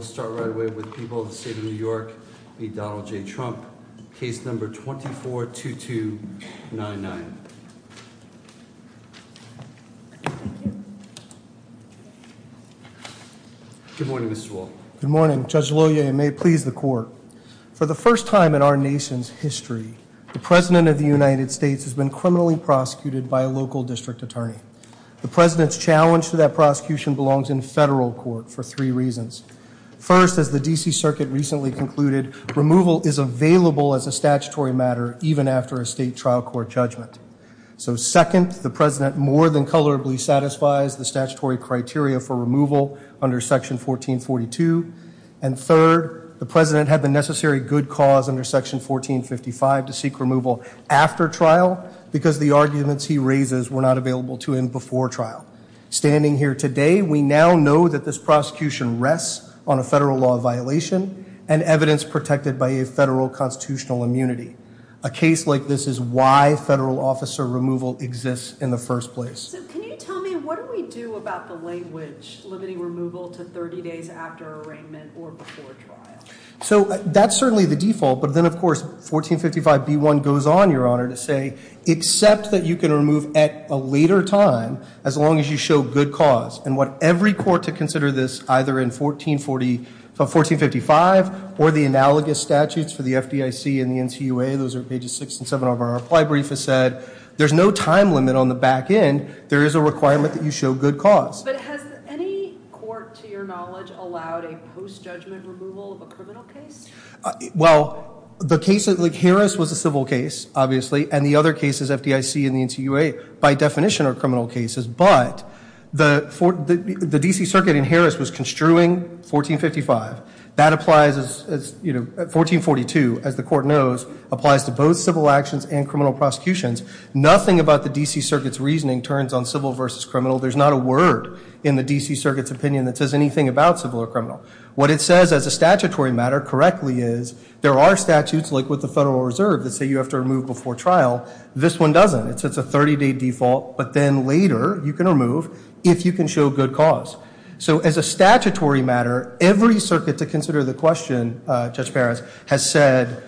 We'll start right away with People of the State of New York v. Donald J. Trump, case number 242299. Good morning, Mr. Wall. Good morning, Judge Lohier, and may it please the Court. For the first time in our nation's history, the President of the United States has been criminally prosecuted by a local district attorney. The President's challenge to that prosecution belongs in federal court for three reasons. First, as the D.C. Circuit recently concluded, removal is available as a statutory matter even after a state trial court judgment. So second, the President more than colorably satisfies the statutory criteria for removal under Section 1442. And third, the President had the necessary good cause under Section 1455 to seek removal after trial, because the arguments he raises were not available to him before trial. Standing here today, we now know that this prosecution rests on a federal law violation and evidence protected by a federal constitutional immunity. A case like this is why federal officer removal exists in the first place. So can you tell me, what do we do about the language limiting removal to 30 days after arraignment or before trial? So that's certainly the default, but then of course, 1455b1 goes on, Your Honor, to say, except that you can remove at a later time as long as you show good cause. And what every court to consider this, either in 1445 or the analogous statutes for the FDIC and the NCUA, those are pages six and seven of our reply brief, has said, there's no time limit on the back end. There is a requirement that you show good cause. But has any court, to your knowledge, allowed a post-judgment removal of a criminal case? Well, the case of Harris was a civil case, obviously, and the other cases, FDIC and the NCUA, by definition, are criminal cases, but the DC Circuit in Harris was construing 1455. That applies as, you know, 1442, as the court knows, applies to both civil actions and criminal prosecutions. Nothing about the DC Circuit's reasoning turns on civil versus criminal. There's not a word in the DC Circuit's opinion that says anything about civil or criminal. What it says as a statutory matter, correctly is, there are statutes, like with the Federal Reserve, that say you have to remove before trial. This one doesn't. It's a 30-day default, but then later you can remove if you can show good cause. So as a statutory matter, every circuit to consider the question, Judge Perez, has said,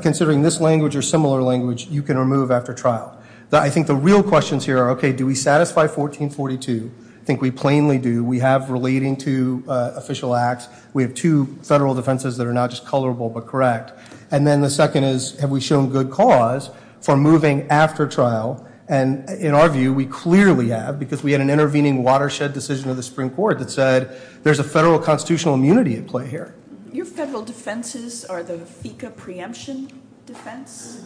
considering this language or similar language, you can remove after trial. I think the real questions here are, okay, do we satisfy 1442? I think we plainly do. We have relating to official acts. We have two federal defenses that are not just colorable but correct. And then the second is, have we shown good cause for moving after trial? And in our view, we clearly have, because we had an intervening watershed decision of the Supreme Court that said, there's a federal constitutional immunity at play here. Your federal defenses are the FECA preemption defense?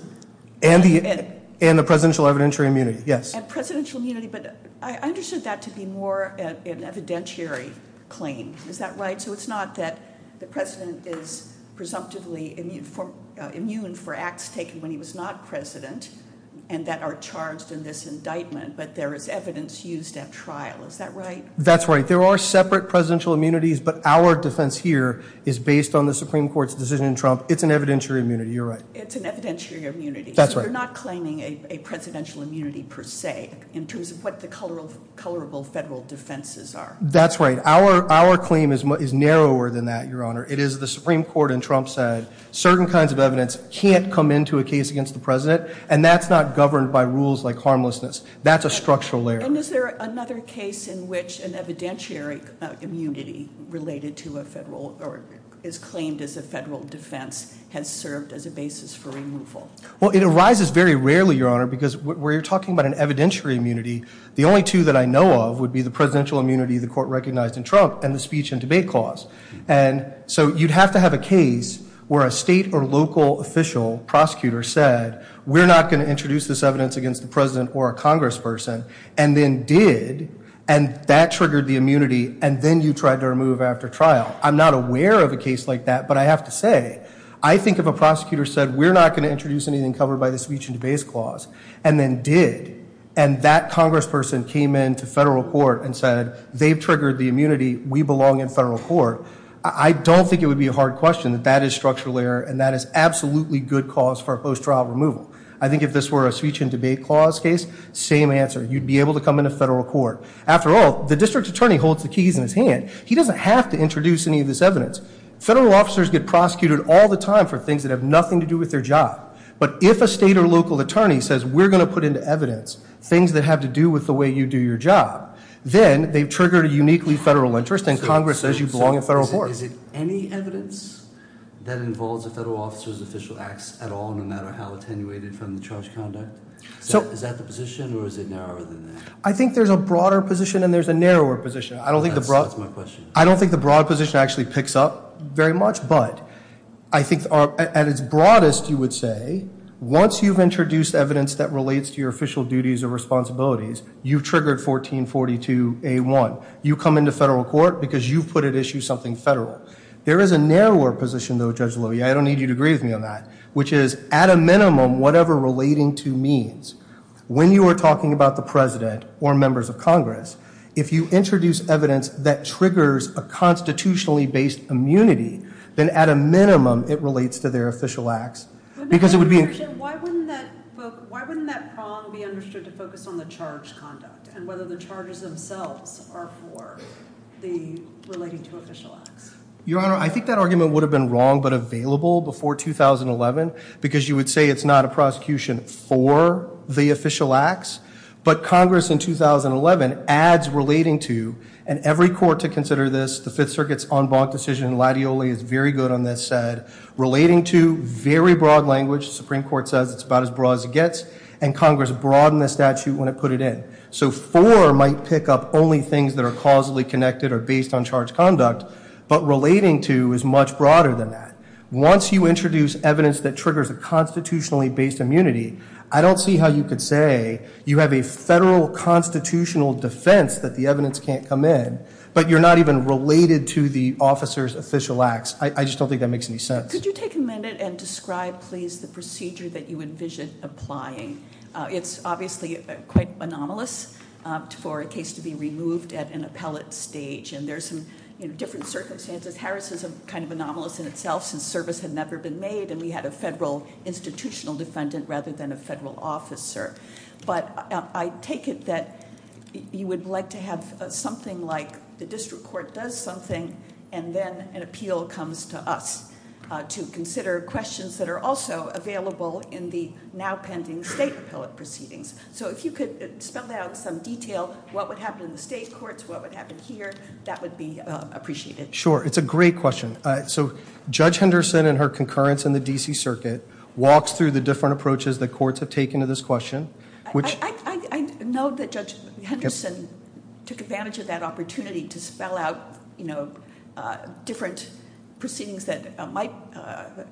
And the presidential evidentiary immunity, yes. And presidential immunity, but I understood that to be more an evidentiary claim, is that right? So it's not that the President is presumptively immune for acts taken when he was not President and that are charged in this indictment, but there is evidence used at trial, is that right? That's right, there are separate presidential immunities, but our defense here is based on the Supreme Court's decision in Trump. It's an evidentiary immunity, you're right. It's an evidentiary immunity, so you're not claiming a presidential immunity per se, in terms of what the colorable federal defenses are. That's right, our claim is narrower than that, Your Honor. It is the Supreme Court in Trump said, certain kinds of evidence can't come into a case against the President, and that's not governed by rules like harmlessness. That's a structural error. And is there another case in which an evidentiary immunity related to a federal, is claimed as a federal defense, has served as a basis for removal? Well, it arises very rarely, Your Honor, because where you're talking about an evidentiary immunity, the only two that I know of would be the presidential immunity the court recognized in Trump and the speech and debate clause. And so you'd have to have a case where a state or local official prosecutor said, we're not going to introduce this evidence against the President or a congressperson, and then did. And that triggered the immunity, and then you tried to remove after trial. I'm not aware of a case like that, but I have to say, I think if a prosecutor said, we're not going to introduce anything covered by the speech and debate clause, and then did. And that congressperson came into federal court and said, they've triggered the immunity, we belong in federal court. I don't think it would be a hard question that that is structural error, and that is absolutely good cause for a post-trial removal. I think if this were a speech and debate clause case, same answer, you'd be able to come into federal court. After all, the district attorney holds the keys in his hand. He doesn't have to introduce any of this evidence. Federal officers get prosecuted all the time for things that have nothing to do with their job. But if a state or local attorney says, we're going to put into evidence things that have to do with the way you do your job, then they've triggered a uniquely federal interest, and Congress says you belong in federal court. Is it any evidence that involves a federal officer's official acts at all, no matter how attenuated from the charge conduct? Is that the position, or is it narrower than that? I think there's a broader position, and there's a narrower position. I don't think the broad position actually picks up very much, but I think at its broadest, you would say, once you've introduced evidence that relates to your official duties or responsibilities, you've triggered 1442A1. You come into federal court because you've put at issue something federal. There is a narrower position, though, Judge Lowy, I don't need you to agree with me on that, which is at a minimum, whatever relating to means. When you are talking about the president or members of Congress, if you introduce evidence that triggers a constitutionally based immunity, then at a minimum, it relates to their official acts, because it would be- Why wouldn't that prong be understood to focus on the charge conduct, and whether the charges themselves are for the relating to official acts? Your Honor, I think that argument would have been wrong but available before 2011, because you would say it's not a prosecution for the official acts. But Congress in 2011 adds relating to, and every court to consider this, the Fifth Circuit's en banc decision, Latioli is very good on this, said, relating to, very broad language. The Supreme Court says it's about as broad as it gets, and Congress broadened the statute when it put it in. So for might pick up only things that are causally connected or based on charge conduct, but relating to is much broader than that. Once you introduce evidence that triggers a constitutionally based immunity, I don't see how you could say you have a federal constitutional defense that the evidence can't come in, but you're not even related to the officer's official acts. I just don't think that makes any sense. Could you take a minute and describe, please, the procedure that you envision applying? It's obviously quite anomalous for a case to be removed at an appellate stage, and there's some different circumstances. Harris is kind of anomalous in itself, since service had never been made, and we had a federal institutional defendant rather than a federal officer. But I take it that you would like to have something like the district court does something, and then an appeal comes to us to consider questions that are also available in the now pending state appellate proceedings. So if you could spell out some detail, what would happen in the state courts, what would happen here, that would be appreciated. Sure, it's a great question. So Judge Henderson and her concurrence in the DC circuit walks through the different approaches that courts have taken to this question. Which- I know that Judge Henderson took advantage of that opportunity to spell out different proceedings that might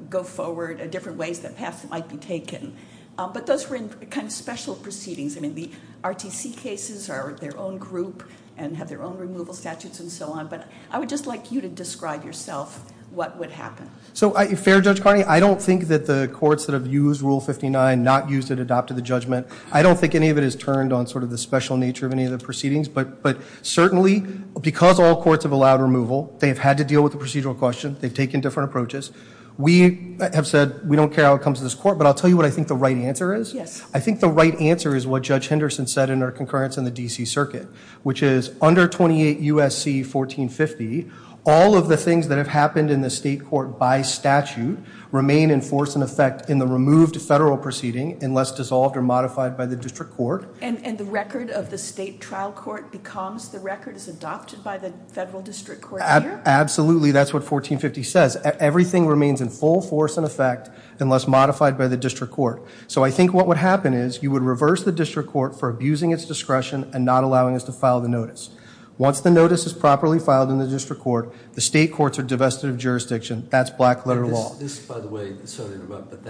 go forward in different ways that might be taken. But those were in kind of special proceedings. I mean, the RTC cases are their own group and have their own removal statutes and so on. But I would just like you to describe yourself what would happen. So, fair Judge Carney, I don't think that the courts that have used Rule 59, not used it, adopted the judgment. I don't think any of it is turned on sort of the special nature of any of the proceedings. But certainly, because all courts have allowed removal, they have had to deal with the procedural question, they've taken different approaches. We have said we don't care how it comes to this court, but I'll tell you what I think the right answer is. Yes. I think the right answer is what Judge Henderson said in her concurrence in the DC circuit, which is under 28 USC 1450, all of the things that have happened in the state court by statute remain in force and effect in the removed federal proceeding unless dissolved or modified by the district court. And the record of the state trial court becomes the record is adopted by the federal district court here? Absolutely, that's what 1450 says. Everything remains in full force and effect unless modified by the district court. So I think what would happen is you would reverse the district court for abusing its discretion and not allowing us to file the notice. Once the notice is properly filed in the district court, the state courts are divested of jurisdiction, that's black letter law. This, by the way, sorry to interrupt, but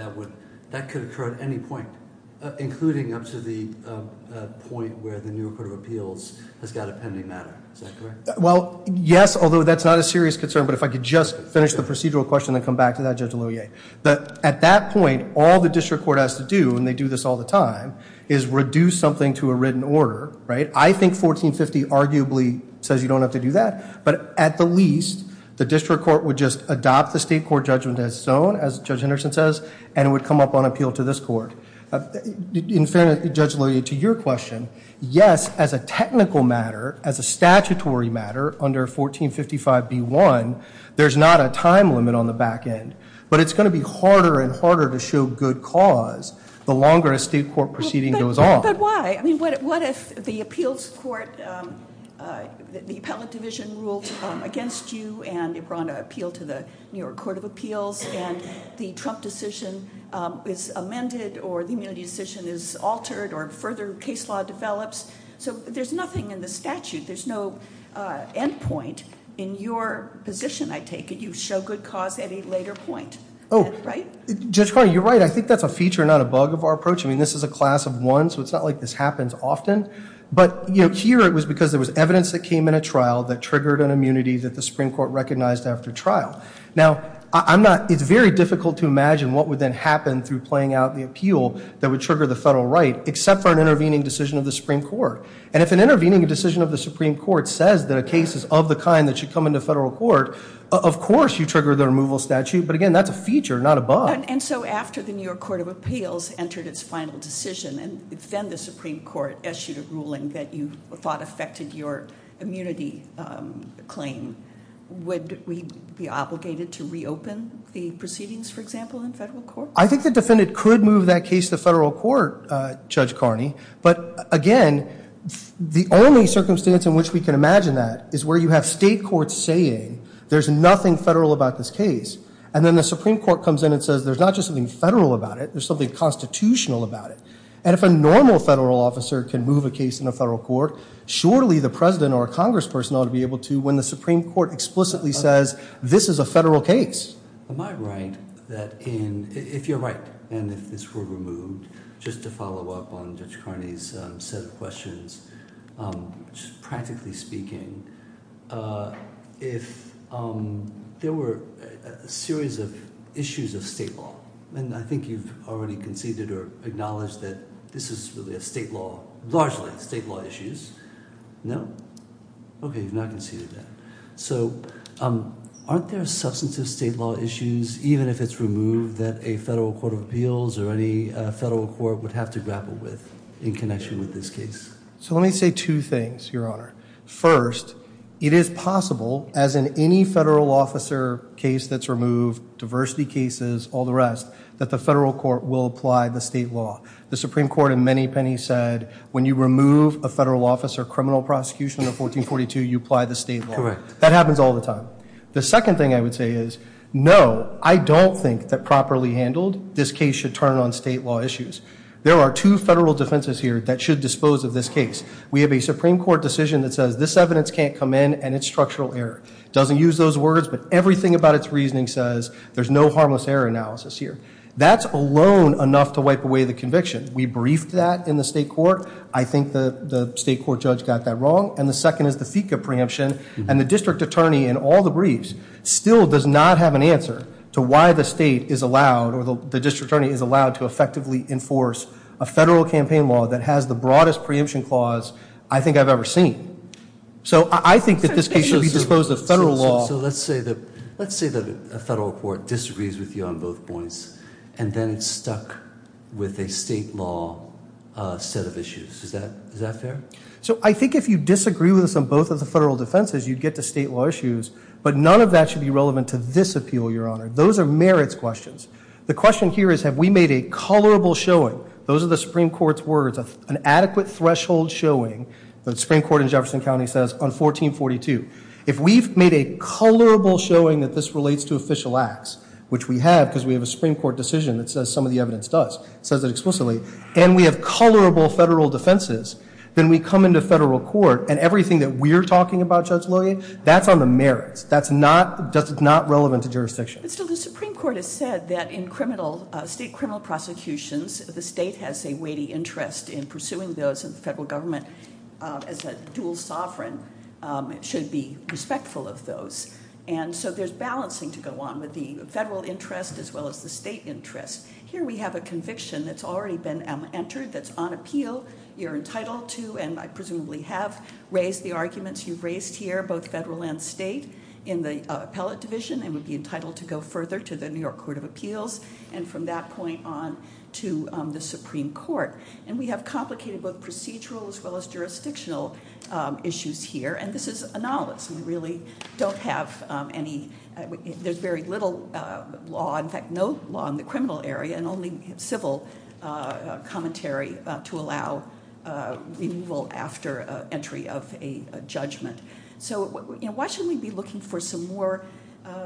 that could occur at any point, including up to the point where the new court of appeals has got a pending matter, is that correct? Well, yes, although that's not a serious concern, but if I could just finish the procedural question and come back to that, Judge Loyer. At that point, all the district court has to do, and they do this all the time, is reduce something to a written order, right? I think 1450 arguably says you don't have to do that, but at the least, the district court would just adopt the state court judgment as its own, as Judge Henderson says, and it would come up on appeal to this court. In fairness, Judge Loyer, to your question, yes, as a technical matter, as a statutory matter under 1455B1, there's not a time limit on the back end. But it's going to be harder and harder to show good cause the longer a state court proceeding goes on. But why? I mean, what if the appeals court, the appellate division ruled against you and they brought an appeal to the New York Court of Appeals, and the Trump decision is amended, or the immunity decision is altered, or further case law develops. So there's nothing in the statute, there's no endpoint in your position, I take it. You show good cause at a later point, right? Judge Carney, you're right, I think that's a feature, not a bug of our approach. I mean, this is a class of one, so it's not like this happens often. But here, it was because there was evidence that came in a trial that triggered an immunity that the Supreme Court recognized after trial. Now, it's very difficult to imagine what would then happen through playing out the appeal that would trigger the federal right, except for an intervening decision of the Supreme Court. And if an intervening decision of the Supreme Court says that a case is of the kind that should come into federal court, of course you trigger the removal statute, but again, that's a feature, not a bug. And so after the New York Court of Appeals entered its final decision, and then the Supreme Court issued a ruling that you thought affected your immunity claim, would we be obligated to reopen the proceedings, for example, in federal court? I think the defendant could move that case to federal court, Judge Carney. But again, the only circumstance in which we can imagine that is where you have state courts saying, there's nothing federal about this case. And then the Supreme Court comes in and says, there's not just something federal about it, there's something constitutional about it. And if a normal federal officer can move a case in a federal court, surely the President or a Congress person ought to be able to when the Supreme Court explicitly says, this is a federal case. Am I right that in, if you're right, and if this were removed, just to follow up on Judge Carney's set of questions, practically speaking, if there were a series of issues of state law, and I think you've already conceded or acknowledged that this is really a state law, largely state law issues. No? Okay, you've not conceded that. So aren't there substantive state law issues, even if it's removed, that a federal court of appeals or any federal court would have to grapple with in connection with this case? So let me say two things, Your Honor. First, it is possible, as in any federal officer case that's removed, diversity cases, all the rest, that the federal court will apply the state law. The Supreme Court in many pennies said, when you remove a federal officer, criminal prosecution of 1442, you apply the state law. That happens all the time. The second thing I would say is, no, I don't think that properly handled, this case should turn on state law issues. There are two federal defenses here that should dispose of this case. We have a Supreme Court decision that says, this evidence can't come in, and it's structural error. Doesn't use those words, but everything about its reasoning says, there's no harmless error analysis here. That's alone enough to wipe away the conviction. We briefed that in the state court. I think the state court judge got that wrong. And the second is the FICA preemption. And the district attorney in all the briefs still does not have an answer to why the state is allowed, or the district attorney is allowed to effectively enforce a federal campaign law that has the broadest preemption clause I think I've ever seen. So I think that this case should be disposed of federal law. So let's say that a federal court disagrees with you on both points, and then it's stuck with a state law set of issues. Is that fair? So I think if you disagree with us on both of the federal defenses, you'd get to state law issues. But none of that should be relevant to this appeal, Your Honor. Those are merits questions. The question here is, have we made a colorable showing? Those are the Supreme Court's words, an adequate threshold showing, the Supreme Court in Jefferson County says on 1442. If we've made a colorable showing that this relates to official acts, which we have because we have a Supreme Court decision that says some of the evidence does, says it explicitly. And we have colorable federal defenses, then we come into federal court, and everything that we're talking about, Judge Lillian, that's on the merits. That's not relevant to jurisdiction. But still, the Supreme Court has said that in state criminal prosecutions, the state has a weighty interest in pursuing those, and the federal government, as a dual sovereign, should be respectful of those. And so there's balancing to go on with the federal interest as well as the state interest. Here we have a conviction that's already been entered that's on appeal. You're entitled to, and I presumably have raised the arguments you've raised here, both federal and state. In the appellate division, it would be entitled to go further to the New York Court of Appeals, and from that point on to the Supreme Court. And we have complicated both procedural as well as jurisdictional issues here, and this is anomalous. We really don't have any, there's very little law, in fact, no law in the criminal area, and only civil commentary to allow removal after entry of a judgment. So why shouldn't we be looking for some more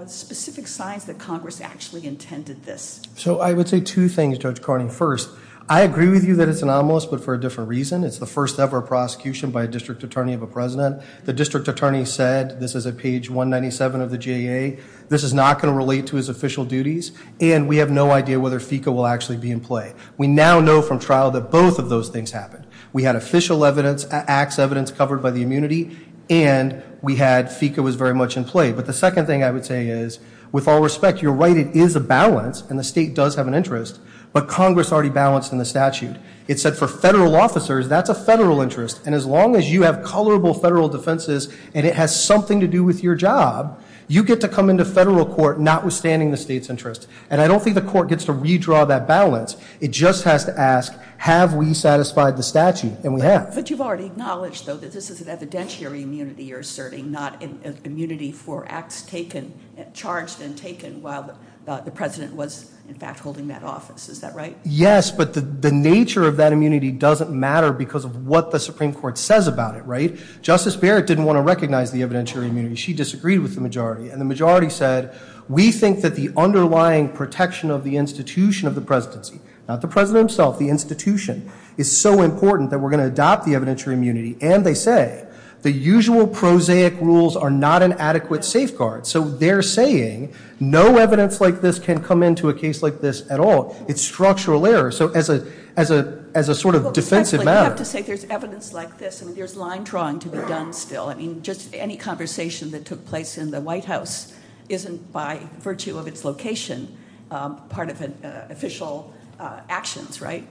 specific signs that Congress actually intended this? So I would say two things, Judge Carney. First, I agree with you that it's anomalous, but for a different reason. It's the first ever prosecution by a district attorney of a president. The district attorney said, this is at page 197 of the JA, this is not going to relate to his official duties, and we have no idea whether FECA will actually be in play. We now know from trial that both of those things happened. We had official evidence, acts evidence covered by the immunity, and FECA was very much in play. But the second thing I would say is, with all respect, you're right, it is a balance, and the state does have an interest, but Congress already balanced in the statute. It said for federal officers, that's a federal interest, and as long as you have colorable federal defenses and it has something to do with your job, you get to come into federal court notwithstanding the state's interest. And I don't think the court gets to redraw that balance. It just has to ask, have we satisfied the statute? And we have. But you've already acknowledged, though, that this is an evidentiary immunity you're asserting, not an immunity for acts taken, charged and taken, while the president was, in fact, holding that office. Is that right? Yes, but the nature of that immunity doesn't matter because of what the Supreme Court says about it, right? Justice Barrett didn't want to recognize the evidentiary immunity. She disagreed with the majority, and the majority said, we think that the underlying protection of the institution of the presidency, not the president himself, the institution, is so important that we're going to adopt the evidentiary immunity. And they say, the usual prosaic rules are not an adequate safeguard. So they're saying, no evidence like this can come into a case like this at all. It's structural error. So as a sort of defensive matter- I have to say, there's evidence like this, and there's line drawing to be done still. I mean, just any conversation that took place in the White House isn't by virtue of its location part of an official actions, right?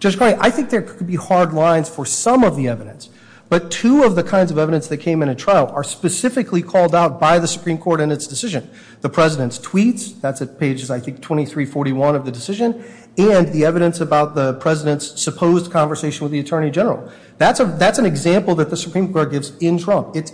Judge Cronin, I think there could be hard lines for some of the evidence. But two of the kinds of evidence that came in at trial are specifically called out by the Supreme Court in its decision. The president's tweets, that's at pages, I think, 23, 41 of the decision, and the evidence about the president's supposed conversation with the attorney general. That's an example that the Supreme Court gives in Trump. It's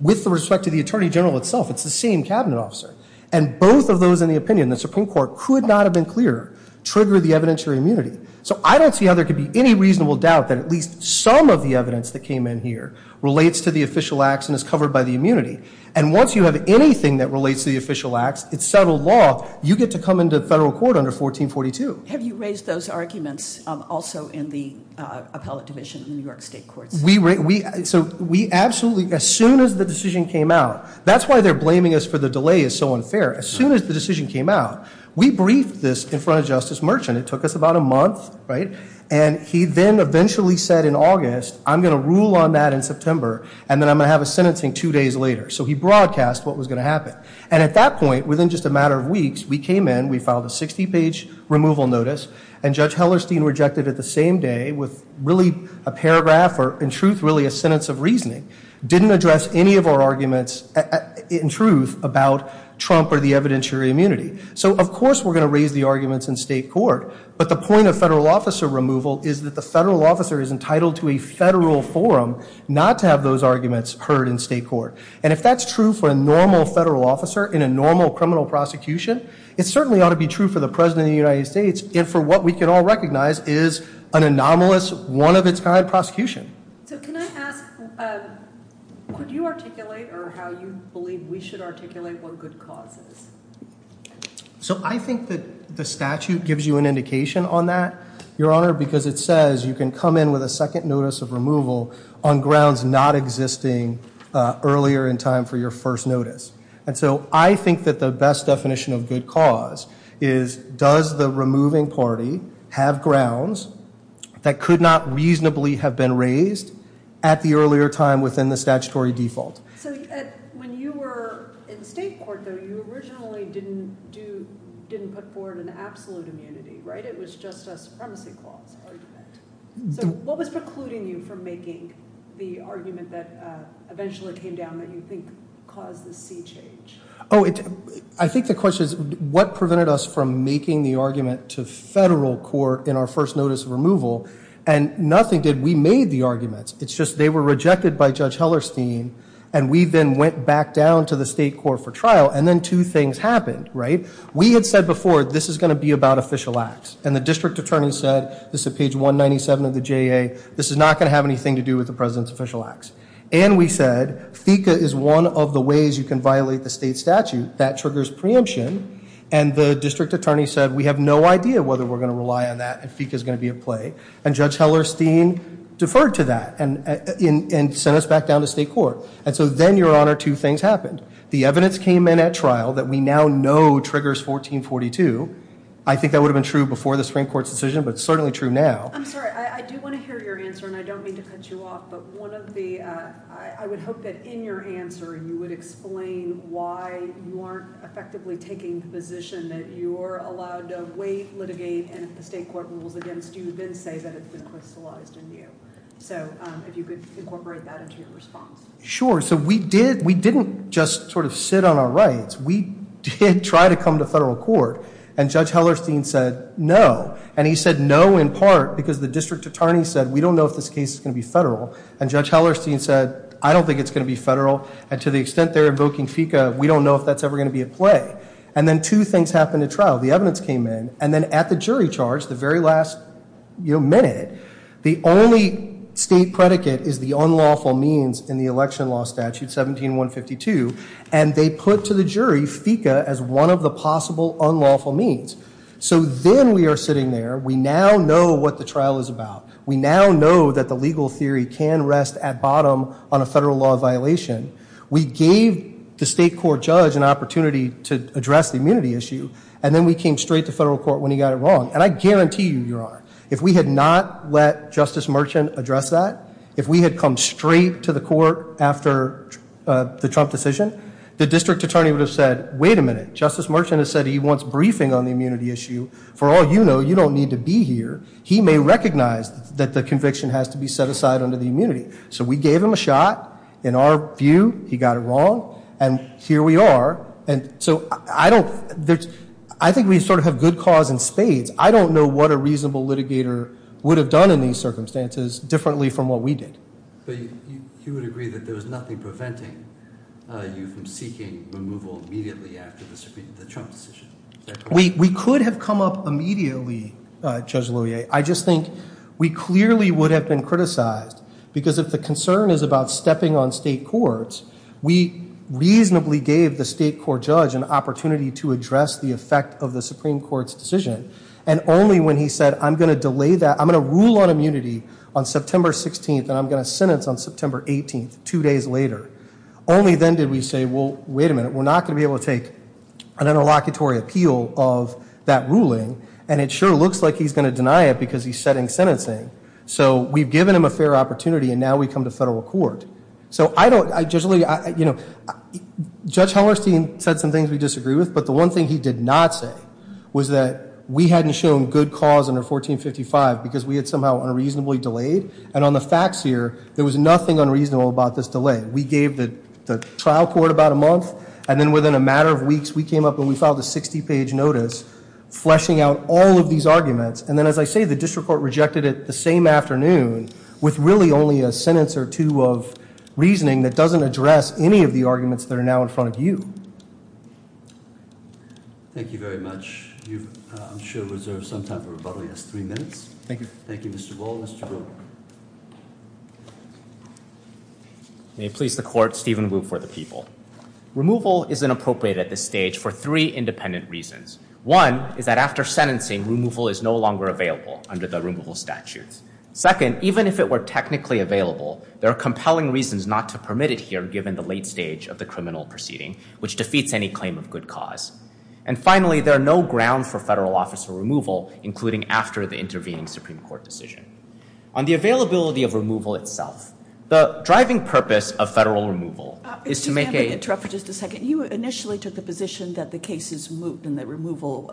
with respect to the attorney general itself. It's the same cabinet officer. And both of those in the opinion, the Supreme Court could not have been clearer, trigger the evidentiary immunity. So I don't see how there could be any reasonable doubt that at least some of the evidence that came in here relates to the official acts and is covered by the immunity. And once you have anything that relates to the official acts, it's settled law, you get to come into federal court under 1442. Have you raised those arguments also in the appellate division in the New York State Courts? We absolutely, as soon as the decision came out. That's why they're blaming us for the delay is so unfair. As soon as the decision came out, we briefed this in front of Justice Merchant. It took us about a month, right? And he then eventually said in August, I'm going to rule on that in September, and then I'm going to have a sentencing two days later. So he broadcast what was going to happen. And at that point, within just a matter of weeks, we came in, we filed a 60 page removal notice. And Judge Hellerstein rejected it the same day with really a paragraph, or in truth, really a sentence of reasoning. Didn't address any of our arguments in truth about Trump or the evidentiary immunity. So of course we're going to raise the arguments in state court. But the point of federal officer removal is that the federal officer is entitled to a federal forum, not to have those arguments heard in state court. And if that's true for a normal federal officer in a normal criminal prosecution, it certainly ought to be true for the President of the United States. And for what we can all recognize is an anomalous, one of its kind prosecution. So can I ask, could you articulate, or how you believe we should articulate what good cause is? So I think that the statute gives you an indication on that, your honor, because it says you can come in with a second notice of removal on grounds not existing earlier in time for your first notice. And so I think that the best definition of good cause is, does the removing party have grounds that could not reasonably have been raised at the earlier time within the statutory default? So when you were in state court, though, you originally didn't put forward an absolute immunity, right? It was just a supremacy clause argument. So what was precluding you from making the argument that eventually came down that you think caused this sea change? I think the question is, what prevented us from making the argument to federal court in our first notice of removal? And nothing did, we made the arguments. It's just they were rejected by Judge Hellerstein. And we then went back down to the state court for trial, and then two things happened, right? We had said before, this is going to be about official acts. And the district attorney said, this is page 197 of the JA, this is not going to have anything to do with the President's official acts. And we said, FICA is one of the ways you can violate the state statute that triggers preemption. And the district attorney said, we have no idea whether we're going to rely on that, and FICA's going to be at play. And Judge Hellerstein deferred to that, and sent us back down to state court. And so then, Your Honor, two things happened. The evidence came in at trial that we now know triggers 1442. I think that would have been true before the Supreme Court's decision, but it's certainly true now. I'm sorry, I do want to hear your answer, and I don't mean to cut you off. But one of the, I would hope that in your answer, you would explain why you aren't effectively taking the position that you're allowed to wait, litigate, and if the state court rules against you, then say that it's been crystallized in you. So if you could incorporate that into your response. Sure, so we didn't just sort of sit on our rights. We did try to come to federal court, and Judge Hellerstein said no. And he said no in part because the district attorney said, we don't know if this case is going to be federal. And Judge Hellerstein said, I don't think it's going to be federal. And to the extent they're invoking FICA, we don't know if that's ever going to be at play. And then two things happened at trial. The evidence came in, and then at the jury charge, the very last minute, the only state predicate is the unlawful means in the election law statute 17-152. And they put to the jury FICA as one of the possible unlawful means. So then we are sitting there. We now know what the trial is about. We now know that the legal theory can rest at bottom on a federal law violation. We gave the state court judge an opportunity to address the immunity issue, and then we came straight to federal court when he got it wrong. And I guarantee you, Your Honor, if we had not let Justice Merchant address that, if we had come straight to the court after the Trump decision, the district attorney would have said, wait a minute. Justice Merchant has said he wants briefing on the immunity issue. For all you know, you don't need to be here. He may recognize that the conviction has to be set aside under the immunity. So we gave him a shot. In our view, he got it wrong, and here we are. And so I think we sort of have good cause in spades. I don't know what a reasonable litigator would have done in these circumstances differently from what we did. But you would agree that there was nothing preventing you from seeking removal immediately after the Trump decision? We could have come up immediately, Judge Loyer. I just think we clearly would have been criticized, because if the concern is about stepping on state courts, we reasonably gave the state court judge an opportunity to address the effect of the Supreme Court's decision. And only when he said, I'm going to delay that, I'm going to rule on immunity on September 16th, and I'm going to sentence on September 18th, two days later. Only then did we say, well, wait a minute. We're not going to be able to take an interlocutory appeal of that ruling. And it sure looks like he's going to deny it, because he's setting sentencing. So we've given him a fair opportunity, and now we come to federal court. So I don't, Judge Loyer, you know, Judge Hellerstein said some things we disagree with. But the one thing he did not say was that we hadn't shown good cause under 1455, because we had somehow unreasonably delayed. And on the facts here, there was nothing unreasonable about this delay. We gave the trial court about a month, and then within a matter of weeks, we came up and we filed a 60 page notice fleshing out all of these arguments. And then as I say, the district court rejected it the same afternoon with really only a sentence or two of reasoning that doesn't address any of the arguments that are now in front of you. Thank you very much. You should reserve some time for rebuttal, yes, three minutes. Thank you. Thank you, Mr. Bull. May it please the court, Stephen Wu for the people. Removal is inappropriate at this stage for three independent reasons. One is that after sentencing, removal is no longer available under the removal statutes. Second, even if it were technically available, there are compelling reasons not to permit it here, given the late stage of the criminal proceeding, which defeats any claim of good cause. And finally, there are no grounds for federal officer removal, including after the intervening Supreme Court decision. On the availability of removal itself, the driving purpose of federal removal is to make a- Excuse me, I'm going to interrupt for just a second. You initially took the position that the case is moot and that removal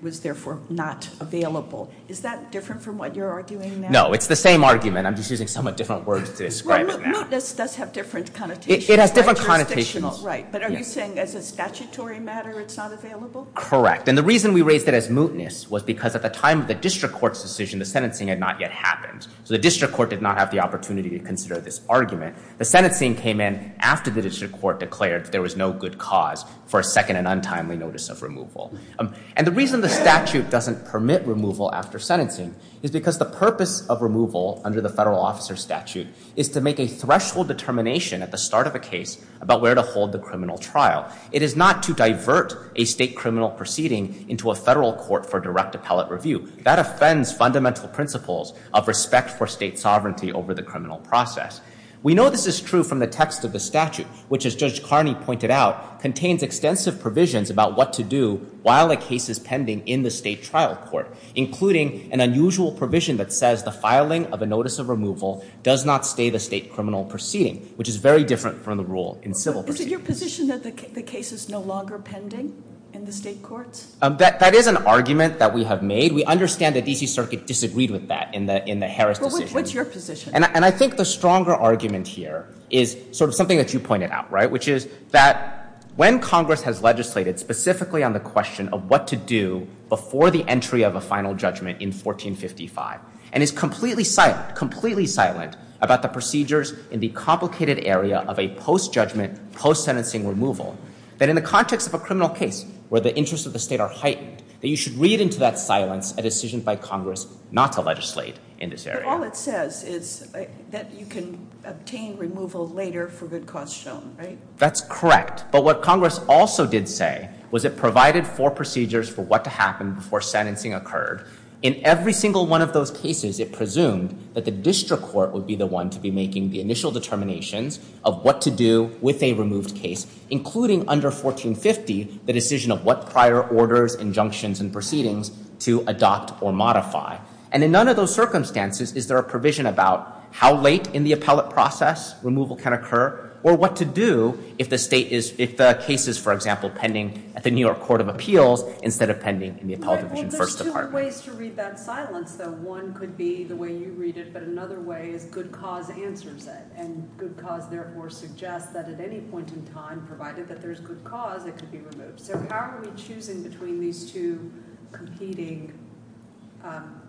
was therefore not available. Is that different from what you're arguing now? No, it's the same argument. I'm just using somewhat different words to describe that. Well, mootness does have different connotations. It has different connotations. Right, but are you saying as a statutory matter it's not available? Correct, and the reason we raised it as mootness was because at the time of the district court's decision, the sentencing had not yet happened. So the district court did not have the opportunity to consider this argument. The sentencing came in after the district court declared that there was no good cause for a second and untimely notice of removal. And the reason the statute doesn't permit removal after sentencing is because the purpose of removal under the federal officer statute is to make a threshold determination at the start of a case about where to hold the criminal trial. It is not to divert a state criminal proceeding into a federal court for direct appellate review. That offends fundamental principles of respect for state sovereignty over the criminal process. We know this is true from the text of the statute, which as Judge Carney pointed out, contains extensive provisions about what to do while a case is pending in the state trial court, including an unusual provision that says the filing of a notice of removal does not stay the state criminal proceeding, which is very different from the rule in civil proceedings. Is it your position that the case is no longer pending in the state courts? That is an argument that we have made. We understand the DC Circuit disagreed with that in the Harris decision. What's your position? And I think the stronger argument here is sort of something that you pointed out, right? Which is that when Congress has legislated specifically on the question of what to do before the entry of a final judgment in 1455, and is completely silent, completely silent about the procedures in the complicated area of a post-judgment, post-sentencing removal, that in the context of a criminal case where the interests of the state are heightened, that you should read into that silence a decision by Congress not to legislate in this area. All it says is that you can obtain removal later for good cause shown, right? That's correct. But what Congress also did say was it provided four procedures for what to happen before sentencing occurred. In every single one of those cases, it presumed that the district court would be the one to be making the initial determinations of what to do with a removed case, including under 1450, the decision of what prior orders, injunctions, and proceedings to adopt or modify. And in none of those circumstances is there a provision about how late in the appellate process removal can occur, or what to do if the state is, if the case is, for example, pending at the New York Court of Appeals instead of pending in the Appellate Division First Department. Well, there's two ways to read that silence, though. One could be the way you read it, but another way is good cause answers it. And good cause, therefore, suggests that at any point in time, provided that there's good cause, it could be removed. So how are we choosing between these two competing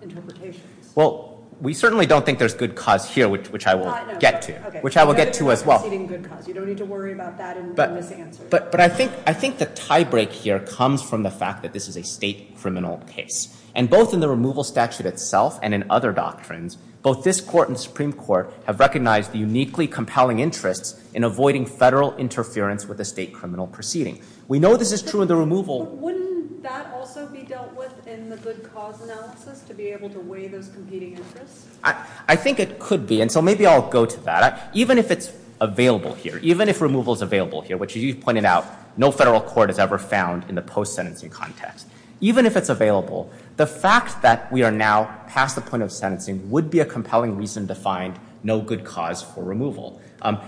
interpretations? Well, we certainly don't think there's good cause here, which I will get to, which I will get to as well. Good cause. You don't need to worry about that in this answer. But I think the tie break here comes from the fact that this is a state criminal case. And both in the removal statute itself and in other doctrines, both this court and the Supreme Court have recognized the uniquely compelling interests in avoiding federal interference with a state criminal proceeding. We know this is true in the removal. Wouldn't that also be dealt with in the good cause analysis to be able to weigh those competing interests? I think it could be. And so maybe I'll go to that. Even if it's available here, even if removal is available here, which as you've pointed out, no federal court has ever found in the post-sentencing context. Even if it's available, the fact that we are now past the point of sentencing would be a compelling reason to find no good cause for removal. And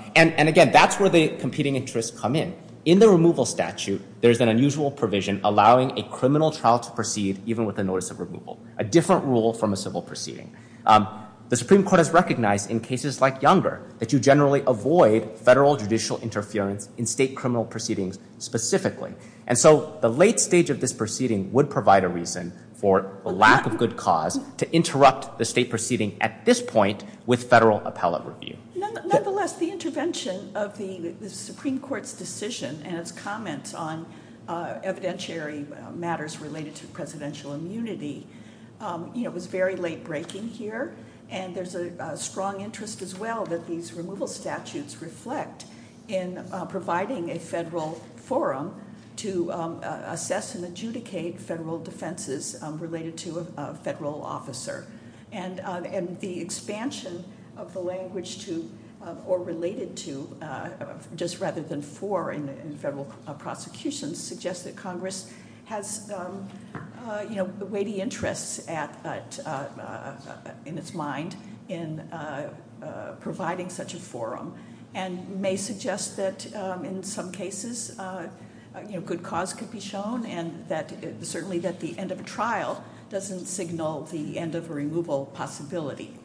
again, that's where the competing interests come in. In the removal statute, there's an unusual provision allowing a criminal trial to proceed even with a notice of removal, a different rule from a civil proceeding. The Supreme Court has recognized in cases like Younger that you generally avoid federal judicial interference in state criminal proceedings specifically. And so the late stage of this proceeding would provide a reason for a lack of good cause to interrupt the state proceeding at this point with federal appellate review. Nonetheless, the intervention of the Supreme Court's decision and its comments on evidentiary matters related to presidential immunity. It was very late breaking here. And there's a strong interest as well that these removal statutes reflect in providing a federal forum to assess and adjudicate federal defenses related to a federal officer. And the expansion of the language to, or related to, just rather than for in federal prosecutions, suggests that Congress has weighty interests in its mind in providing such a forum. And may suggest that in some cases, good cause could be shown and certainly that the end of a trial doesn't signal the end of a removal possibility.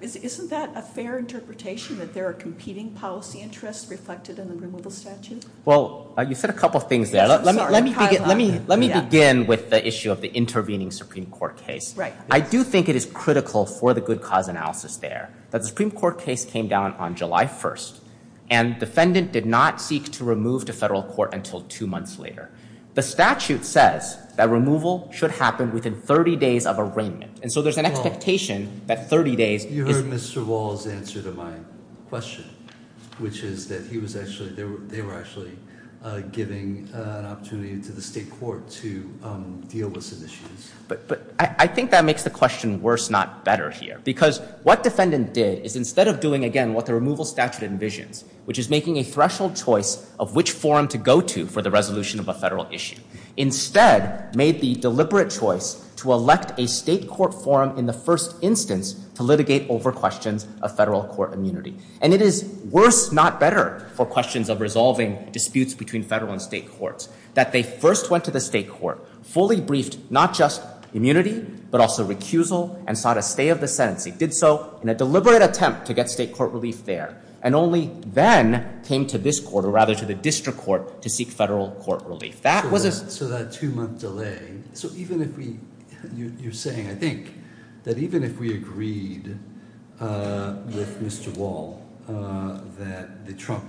Isn't that a fair interpretation that there are competing policy interests reflected in the removal statute? Well, you said a couple of things there, let me begin with the issue of the intervening Supreme Court case. Right. I do think it is critical for the good cause analysis there. That the Supreme Court case came down on July 1st, and defendant did not seek to remove to federal court until two months later. The statute says that removal should happen within 30 days of arraignment. And so there's an expectation that 30 days- You heard Mr. Wall's answer to my question. Which is that he was actually, they were actually giving an opportunity to the state court to deal with some issues. But I think that makes the question worse, not better here. Because what defendant did is instead of doing again what the removal statute envisions, which is making a threshold choice of which forum to go to for the resolution of a federal issue. Instead, made the deliberate choice to elect a state court forum in the first instance to litigate over questions of federal court immunity. And it is worse, not better, for questions of resolving disputes between federal and state courts. That they first went to the state court, fully briefed not just immunity, but also recusal and sought a stay of the sentence. He did so in a deliberate attempt to get state court relief there. And only then came to this court, or rather to the district court, to seek federal court relief. That was a- So that two month delay, so even if we, you're saying, I think, that even if we agreed with Mr. Wall that the Trump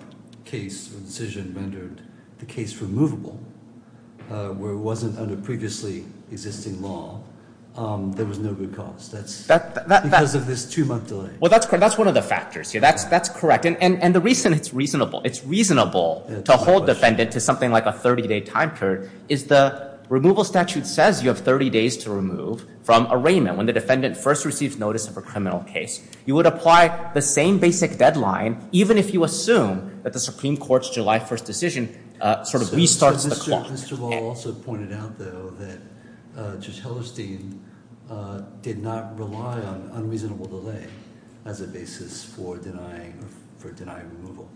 case, the decision rendered the case removable, where it wasn't under previously existing law. There was no good cause. That's because of this two month delay. Well, that's one of the factors here, that's correct. And the reason it's reasonable, it's reasonable to hold defendant to something like a 30 day time period, is the removal statute says you have 30 days to remove from arraignment, when the defendant first receives notice of a criminal case. You would apply the same basic deadline, even if you assume that the Supreme Court's July 1st decision sort of restarts the clock. Mr. Wall also pointed out though that Judge Hellerstein did not rely on unreasonable delay as a basis for denying removal.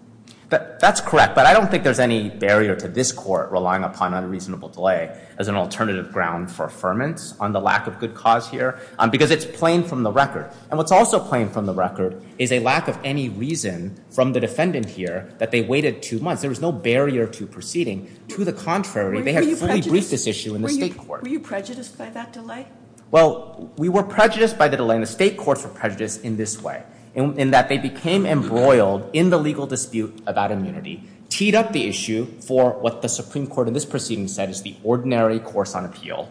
That's correct, but I don't think there's any barrier to this court relying upon unreasonable delay as an alternative ground for affirmance on the lack of good cause here, because it's plain from the record. And what's also plain from the record is a lack of any reason from the defendant here that they waited two months. There was no barrier to proceeding. To the contrary, they had fully briefed this issue in the state court. Were you prejudiced by that delay? Well, we were prejudiced by the delay, and the state courts were prejudiced in this way. In that they became embroiled in the legal dispute about immunity, teed up the issue for what the Supreme Court in this proceeding said is the ordinary course on appeal,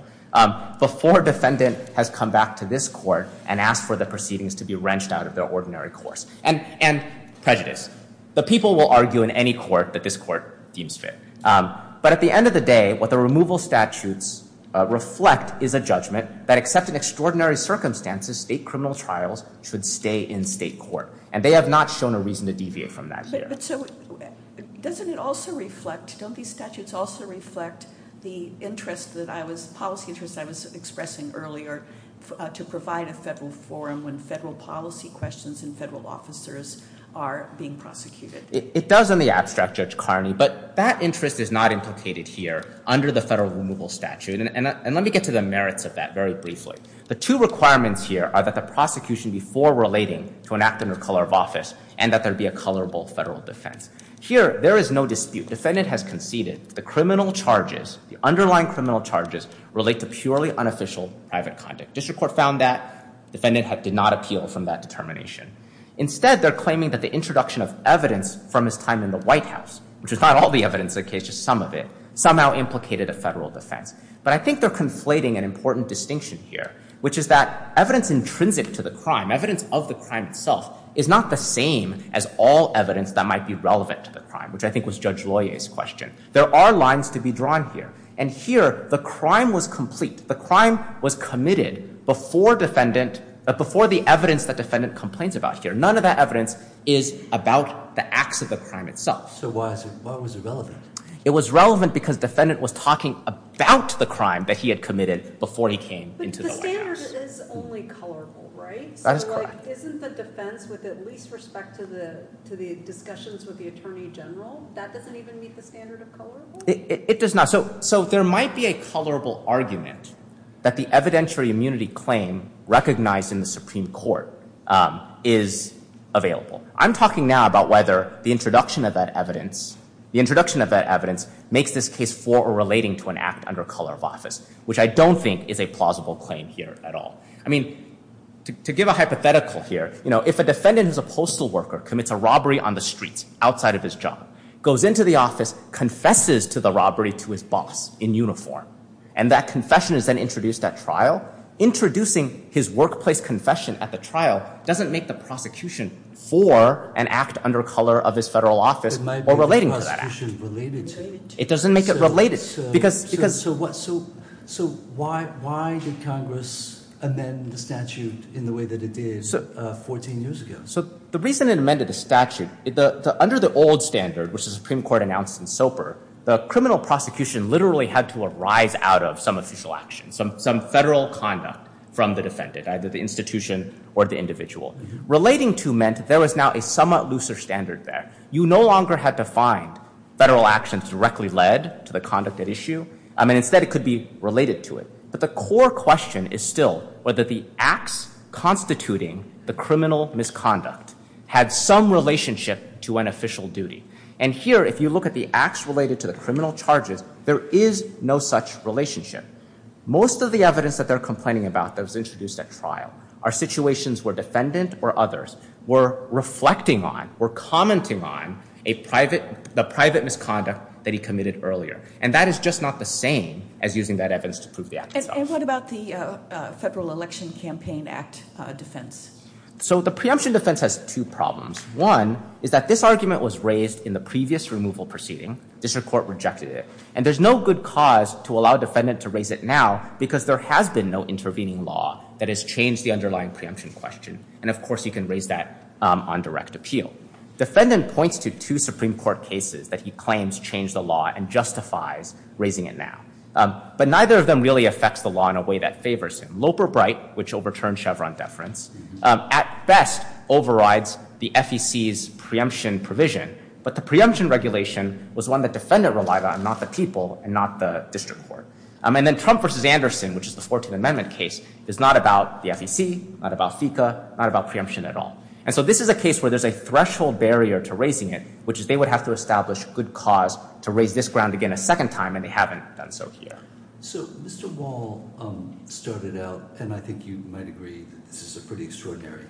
before defendant has come back to this court and asked for the proceedings to be wrenched out of their ordinary course, and prejudice. The people will argue in any court that this court deems fit. But at the end of the day, what the removal statutes reflect is a judgment that except in extraordinary circumstances, state criminal trials should stay in state court. And they have not shown a reason to deviate from that here. But so, doesn't it also reflect, don't these statutes also reflect the interest that I was, policy interest I was expressing earlier to provide a federal forum when federal policy questions and federal officers are being prosecuted? It does in the abstract, Judge Carney, but that interest is not implicated here under the federal removal statute. And let me get to the merits of that very briefly. The two requirements here are that the prosecution be forward relating to enacting a color of office, and that there be a colorable federal defense. Here, there is no dispute. Defendant has conceded the criminal charges, the underlying criminal charges, relate to purely unofficial private conduct. District court found that. Defendant did not appeal from that determination. Instead, they're claiming that the introduction of evidence from his time in the White House, which is not all the evidence in the case, just some of it, somehow implicated a federal defense. But I think they're conflating an important distinction here, which is that evidence intrinsic to the crime, evidence of the crime itself, is not the same as all evidence that might be relevant to the crime, which I think was Judge Loyer's question. There are lines to be drawn here. And here, the crime was complete. The crime was committed before the evidence that defendant complains about here. None of that evidence is about the acts of the crime itself. So why was it relevant? It was relevant because defendant was talking about the crime that he had committed before he came into the White House. But the standard is only colorable, right? That is correct. So isn't the defense, with at least respect to the discussions with the Attorney General, that doesn't even meet the standard of colorable? It does not. So there might be a colorable argument that the evidentiary immunity claim recognized in the Supreme Court is available. I'm talking now about whether the introduction of that evidence makes this case for or relating to an act under color of office, which I don't think is a plausible claim here at all. I mean, to give a hypothetical here, if a defendant who's a postal worker commits a robbery on the streets outside of his job, goes into the office, confesses to the robbery to his boss in uniform, and that confession is then introduced at trial, introducing his workplace confession at the trial doesn't make the prosecution for an act under color of his federal office or relating to that act. It might be the prosecution related to it. It doesn't make it related. So why did Congress amend the statute in the way that it did 14 years ago? So the reason it amended the statute, under the old standard, which the Supreme Court announced in SOPR, the criminal prosecution literally had to arise out of some official action, some federal conduct from the defendant, either the institution or the individual. Relating to meant there was now a somewhat looser standard there. You no longer had to find federal actions directly led to the conduct at issue. I mean, instead, it could be related to it. But the core question is still whether the acts constituting the criminal misconduct had some relationship to an official duty. And here, if you look at the acts related to the criminal charges, there is no such relationship. Most of the evidence that they're complaining about that was introduced at trial are situations where defendant or others were reflecting on, were commenting on, the private misconduct that he committed earlier. And that is just not the same as using that evidence to prove the act itself. And what about the Federal Election Campaign Act defense? So the preemption defense has two problems. One is that this argument was raised in the previous removal proceeding. District Court rejected it. And there's no good cause to allow defendant to raise it now because there has been no intervening law that has changed the underlying preemption question. And of course, you can raise that on direct appeal. Defendant points to two Supreme Court cases that he claims changed the law and justifies raising it now. But neither of them really affects the law in a way that favors him. Loper-Bright, which overturned Chevron deference, at best overrides the FEC's preemption provision. But the preemption regulation was one that defendant relied on, not the people and not the district court. And then Trump versus Anderson, which is the 14th Amendment case, is not about the FEC, not about FECA, not about preemption at all. And so this is a case where there's a threshold barrier to raising it, which is they would have to establish good cause to raise this ground again a second time, and they haven't done so here. So Mr. Wall started out, and I think you might agree that this is a pretty extraordinary,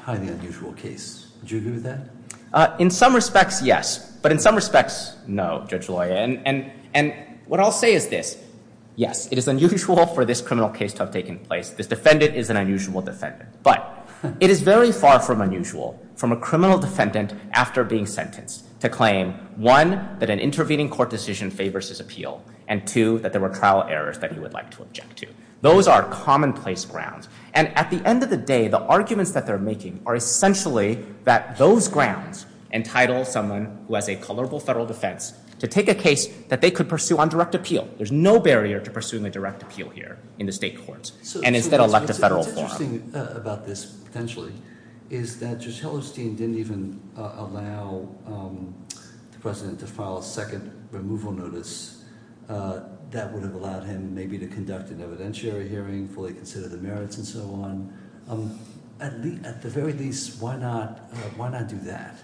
highly unusual case. Do you agree with that? In some respects, yes. But in some respects, no, Judge Loya. And what I'll say is this. Yes, it is unusual for this criminal case to have taken place. This defendant is an unusual defendant. But it is very far from unusual from a criminal defendant after being sentenced to claim, one, that an intervening court decision favors his appeal, and two, that there were trial errors that he would like to object to. Those are commonplace grounds. And at the end of the day, the arguments that they're making are essentially that those grounds entitle someone who has a colorable federal defense to take a case that they could pursue on direct appeal. There's no barrier to pursuing a direct appeal here in the state courts and instead elect a federal forum. What's interesting about this, potentially, is that Judge Hellerstein didn't even allow the president to file a second removal notice. That would have allowed him maybe to conduct an evidentiary hearing, fully consider the merits, and so on. At the very least, why not do that?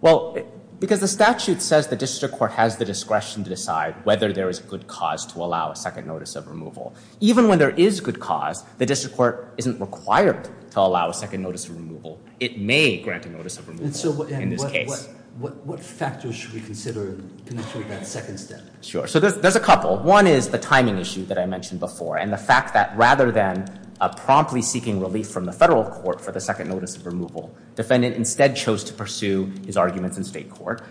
Well, because the statute says the district court has the discretion to decide whether there is a good cause to allow a second notice of removal. Even when there is good cause, the district court isn't required to allow a second notice of removal. It may grant a notice of removal in this case. What factors should we consider in that second step? Sure, so there's a couple. One is the timing issue that I mentioned before, and the fact that rather than promptly seeking relief from the federal court for the second notice of removal, defendant instead chose to pursue his arguments in state court.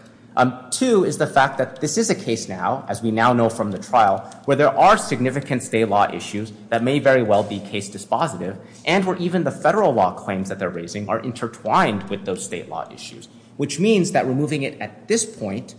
Two is the fact that this is a case now, as we now know from the trial, where there are significant state law issues that may very well be case dispositive. And where even the federal law claims that they're raising are intertwined with those state law issues. Which means that removing it at this point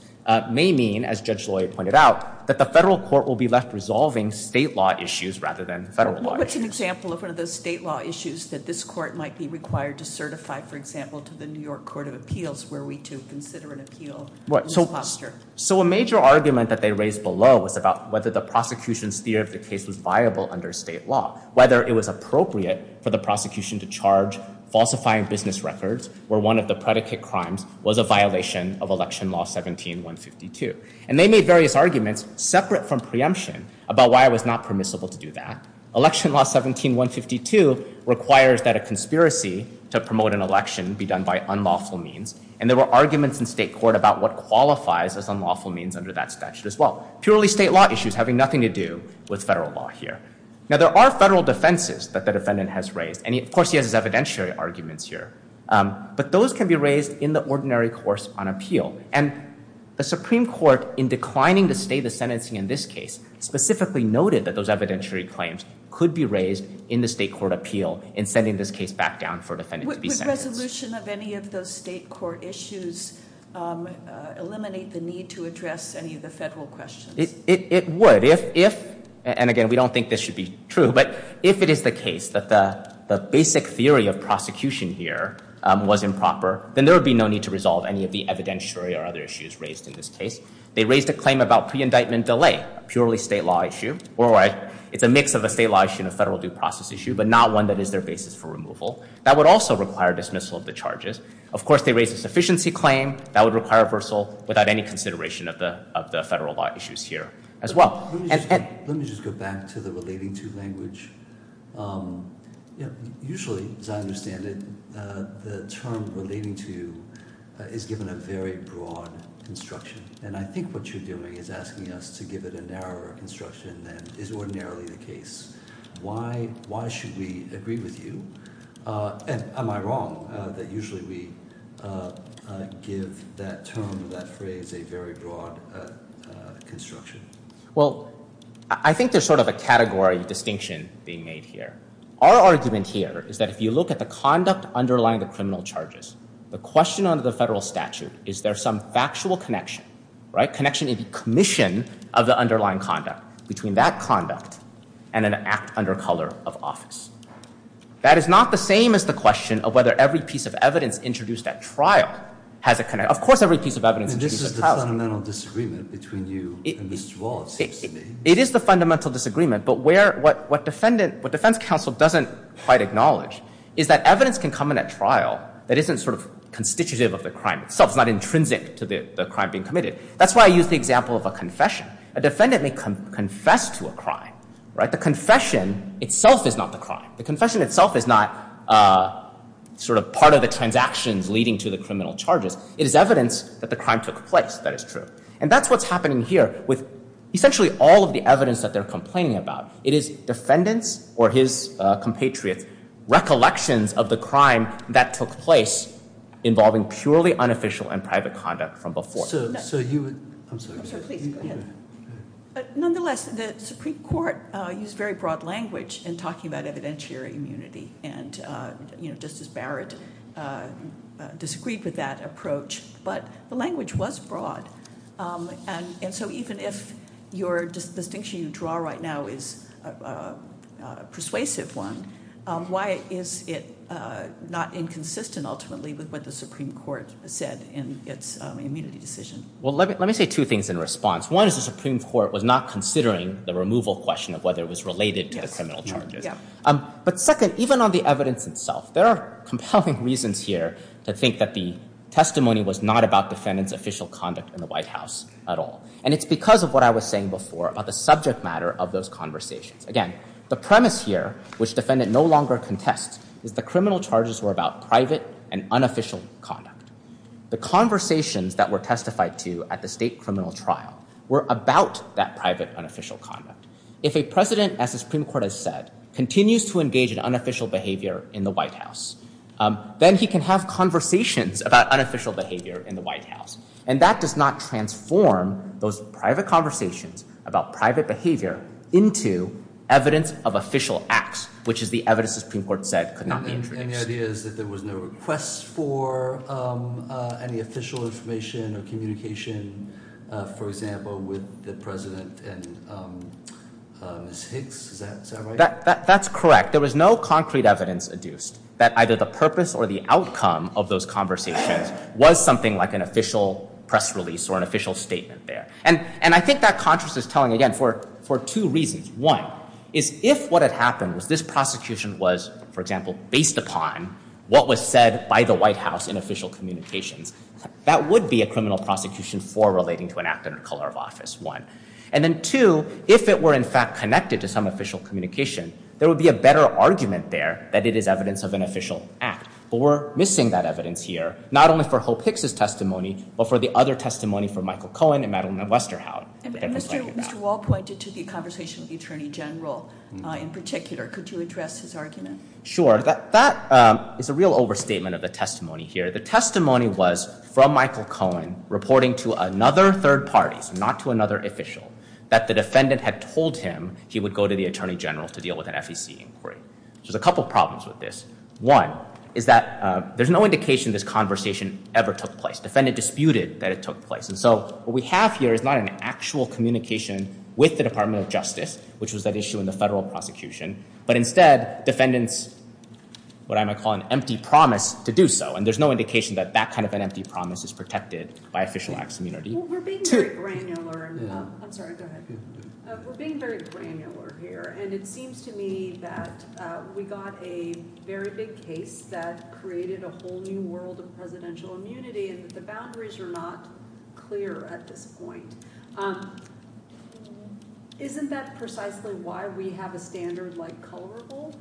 may mean, as Judge Lloyd pointed out, that the federal court will be left resolving state law issues rather than federal law issues. What's an example of one of those state law issues that this court might be required to certify, for example, to the New York Court of Appeals, where we do consider an appeal in this posture? So a major argument that they raised below was about whether the prosecution's theory of the case was viable under state law. Whether it was appropriate for the prosecution to charge falsifying business records, where one of the predicate crimes was a violation of Election Law 17-152. And they made various arguments, separate from preemption, about why it was not permissible to do that. Election Law 17-152 requires that a conspiracy to promote an election be done by unlawful means. And there were arguments in state court about what qualifies as unlawful means under that statute as well. Purely state law issues having nothing to do with federal law here. Now, there are federal defenses that the defendant has raised. And of course, he has his evidentiary arguments here. But those can be raised in the ordinary course on appeal. And the Supreme Court, in declining to stay the sentencing in this case, specifically noted that those evidentiary claims could be raised in the state court appeal in sending this case back down for a defendant to be sentenced. Would resolution of any of those state court issues eliminate the need to address any of the federal questions? It would. If, and again, we don't think this should be true, but if it is the case that the basic theory of prosecution here was improper, then there would be no need to resolve any of the evidentiary or other issues raised in this case. They raised a claim about pre-indictment delay, a purely state law issue. Or it's a mix of a state law issue and a federal due process issue, but not one that is their basis for removal. That would also require dismissal of the charges. Of course, they raised a sufficiency claim. That would require reversal without any consideration of the federal law issues here as well. And- Let me just go back to the relating to language. Usually, as I understand it, the term relating to is given a very broad instruction. And I think what you're doing is asking us to give it a narrower instruction than is ordinarily the case. Why should we agree with you? And am I wrong that usually we give that term, that phrase, a very broad construction? Well, I think there's sort of a category distinction being made here. Our argument here is that if you look at the conduct underlying the criminal charges, the question under the federal statute, is there some factual connection, right? Connection in the commission of the underlying conduct between that conduct and an act under color of office. That is not the same as the question of whether every piece of evidence introduced at trial has a connection. Of course, every piece of evidence introduced at trial- And this is the fundamental disagreement between you and Mr. Wall, it seems to me. It is the fundamental disagreement, but what defense counsel doesn't quite acknowledge is that evidence can come in at trial that isn't sort of constitutive of the crime itself. It's not intrinsic to the crime being committed. That's why I use the example of a confession. A defendant may confess to a crime, right? The confession itself is not the crime. The confession itself is not sort of part of the transactions leading to the criminal charges. It is evidence that the crime took place that is true. And that's what's happening here with essentially all of the evidence that they're complaining about. It is defendant's or his compatriot's recollections of the crime that took place involving purely unofficial and private conduct from before. So you would, I'm sorry. I'm sorry, please, go ahead. But nonetheless, the Supreme Court used very broad language in talking about evidentiary immunity. And Justice Barrett disagreed with that approach. But the language was broad and so even if your distinction you draw right now is a persuasive one, why is it not inconsistent ultimately with what the Supreme Court said in its immunity decision? Well, let me say two things in response. One is the Supreme Court was not considering the removal question of whether it was related to the criminal charges. But second, even on the evidence itself, there are compelling reasons here to think that the testimony was not about defendant's official conduct in the White House at all. And it's because of what I was saying before about the subject matter of those conversations. Again, the premise here, which defendant no longer contests, is the criminal charges were about private and unofficial conduct. The conversations that were testified to at the state criminal trial were about that private unofficial conduct. If a president, as the Supreme Court has said, continues to engage in unofficial behavior in the White House, then he can have conversations about unofficial behavior in the White House. And that does not transform those private conversations about private behavior into evidence of official acts, which is the evidence the Supreme Court said could not be introduced. And the idea is that there was no request for any official information or communication, for example, with the President and Ms. Hicks, is that right? That's correct. There was no concrete evidence adduced that either the purpose or the outcome of those conversations was something like an official press release or an official statement there. And I think that contrast is telling, again, for two reasons. One is if what had happened was this prosecution was, for example, based upon what was said by the White House in official communications, that would be a criminal prosecution for relating to an act in the color of office, one. And then two, if it were in fact connected to some official communication, there would be a better argument there that it is evidence of an official act. But we're missing that evidence here, not only for Hope Hicks' testimony, but for the other testimony from Michael Cohen and Madeline Westerhout. And Mr. Wall pointed to the conversation with the Attorney General in particular. Could you address his argument? Sure, that is a real overstatement of the testimony here. The testimony was from Michael Cohen reporting to another third party, so not to another official, that the defendant had told him he would go to the Attorney General to deal with an FEC inquiry. There's a couple problems with this. One is that there's no indication this conversation ever took place. Defendant disputed that it took place. And so, what we have here is not an actual communication with the Department of Justice, which was that issue in the federal prosecution. But instead, defendants, what I might call an empty promise to do so. And there's no indication that that kind of an empty promise is protected by official acts of immunity. Two- We're being very granular, I'm sorry, go ahead. We're being very granular here, and it seems to me that we got a very big case that created a whole new world of presidential immunity, and that the boundaries are not clear at this point. Isn't that precisely why we have a standard like colorable?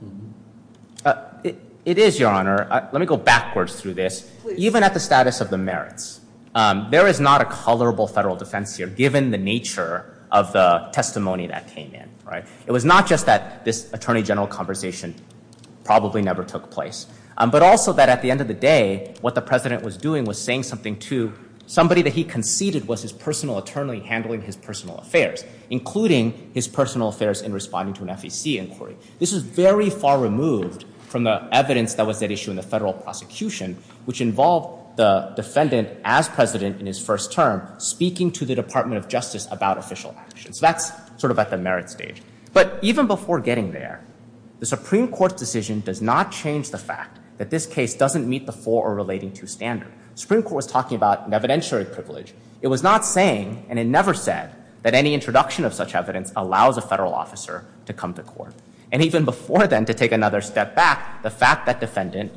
It is, Your Honor. Let me go backwards through this. Even at the status of the merits, there is not a colorable federal defense here, given the nature of the testimony that came in, right? It was not just that this Attorney General conversation probably never took place. But also that at the end of the day, what the President was doing was saying something to somebody that he conceded was his personal attorney handling his personal affairs, including his personal affairs in responding to an FEC inquiry. This is very far removed from the evidence that was at issue in the federal prosecution, which involved the defendant as President in his first term speaking to the Department of Justice about official actions. That's sort of at the merit stage. But even before getting there, the Supreme Court's decision does not change the fact that this case doesn't meet the four or relating to standard. Supreme Court was talking about an evidentiary privilege. It was not saying, and it never said, that any introduction of such evidence allows a federal officer to come to court. And even before then, to take another step back, the fact that defendant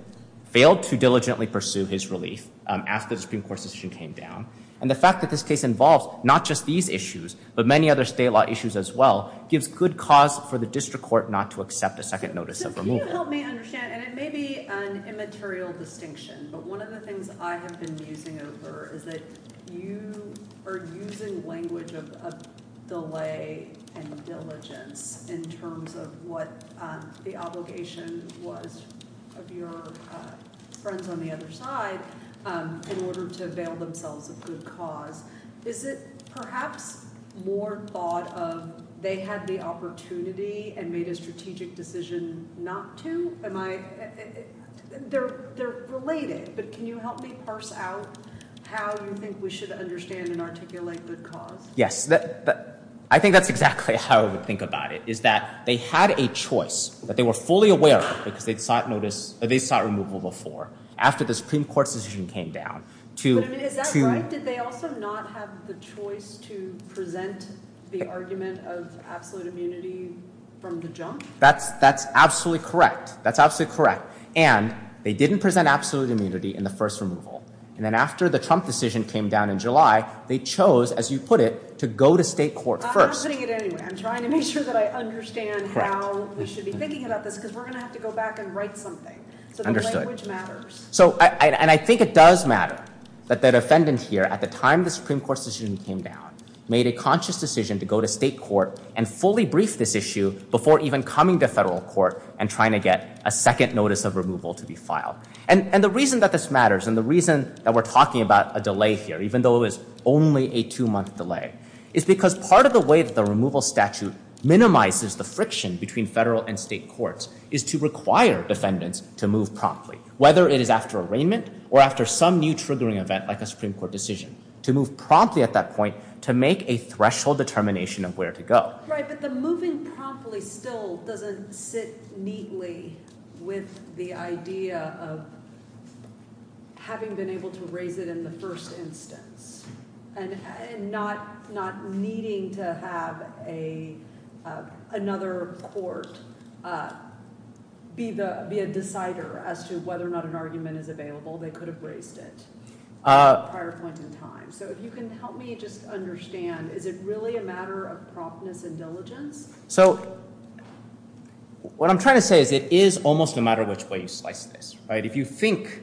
failed to diligently pursue his relief, as the Supreme Court's decision came down, and the fact that this case involves not just these issues, but many other state law issues as well, gives good cause for the district court not to accept a second notice of removal. Can you help me understand, and it may be an immaterial distinction, but one of the things I have been musing over is that you are using language of delay and diligence in terms of what the obligation was of your friends on the other side in order to avail themselves of good cause. Is it perhaps more thought of they had the opportunity and made a strategic decision not to? They're related, but can you help me parse out how you think we should understand and articulate good cause? Yes, I think that's exactly how I would think about it, is that they had a choice, but they were fully aware of it because they sought removal before, after the Supreme Court's decision came down. But is that right? Did they also not have the choice to present the argument of absolute immunity from the junk? That's absolutely correct. That's absolutely correct. And they didn't present absolute immunity in the first removal. And then after the Trump decision came down in July, they chose, as you put it, to go to state court first. I'm putting it anyway. I'm trying to make sure that I understand how we should be thinking about this, because we're going to have to go back and write something. So the language matters. And I think it does matter that the defendant here, at the time the Supreme Court's decision came down, made a conscious decision to go to state court and fully brief this issue before even coming to federal court and trying to get a second notice of removal to be filed. And the reason that this matters and the reason that we're talking about a delay here, even though it was only a two-month delay, is because part of the way that the removal statute minimizes the friction between federal and state courts is to require defendants to move promptly, whether it is after arraignment or after some new triggering event like a Supreme Court decision, to move promptly at that point to make a threshold determination of where to go. Right, but the moving promptly still doesn't sit neatly with the idea of having been able to raise it in the first instance and not needing to have another court be a decider as to whether or not an argument is available. They could have raised it at a prior point in time. So if you can help me just understand, is it really a matter of promptness and diligence? So what I'm trying to say is it is almost no matter which way you slice this, right? If you think,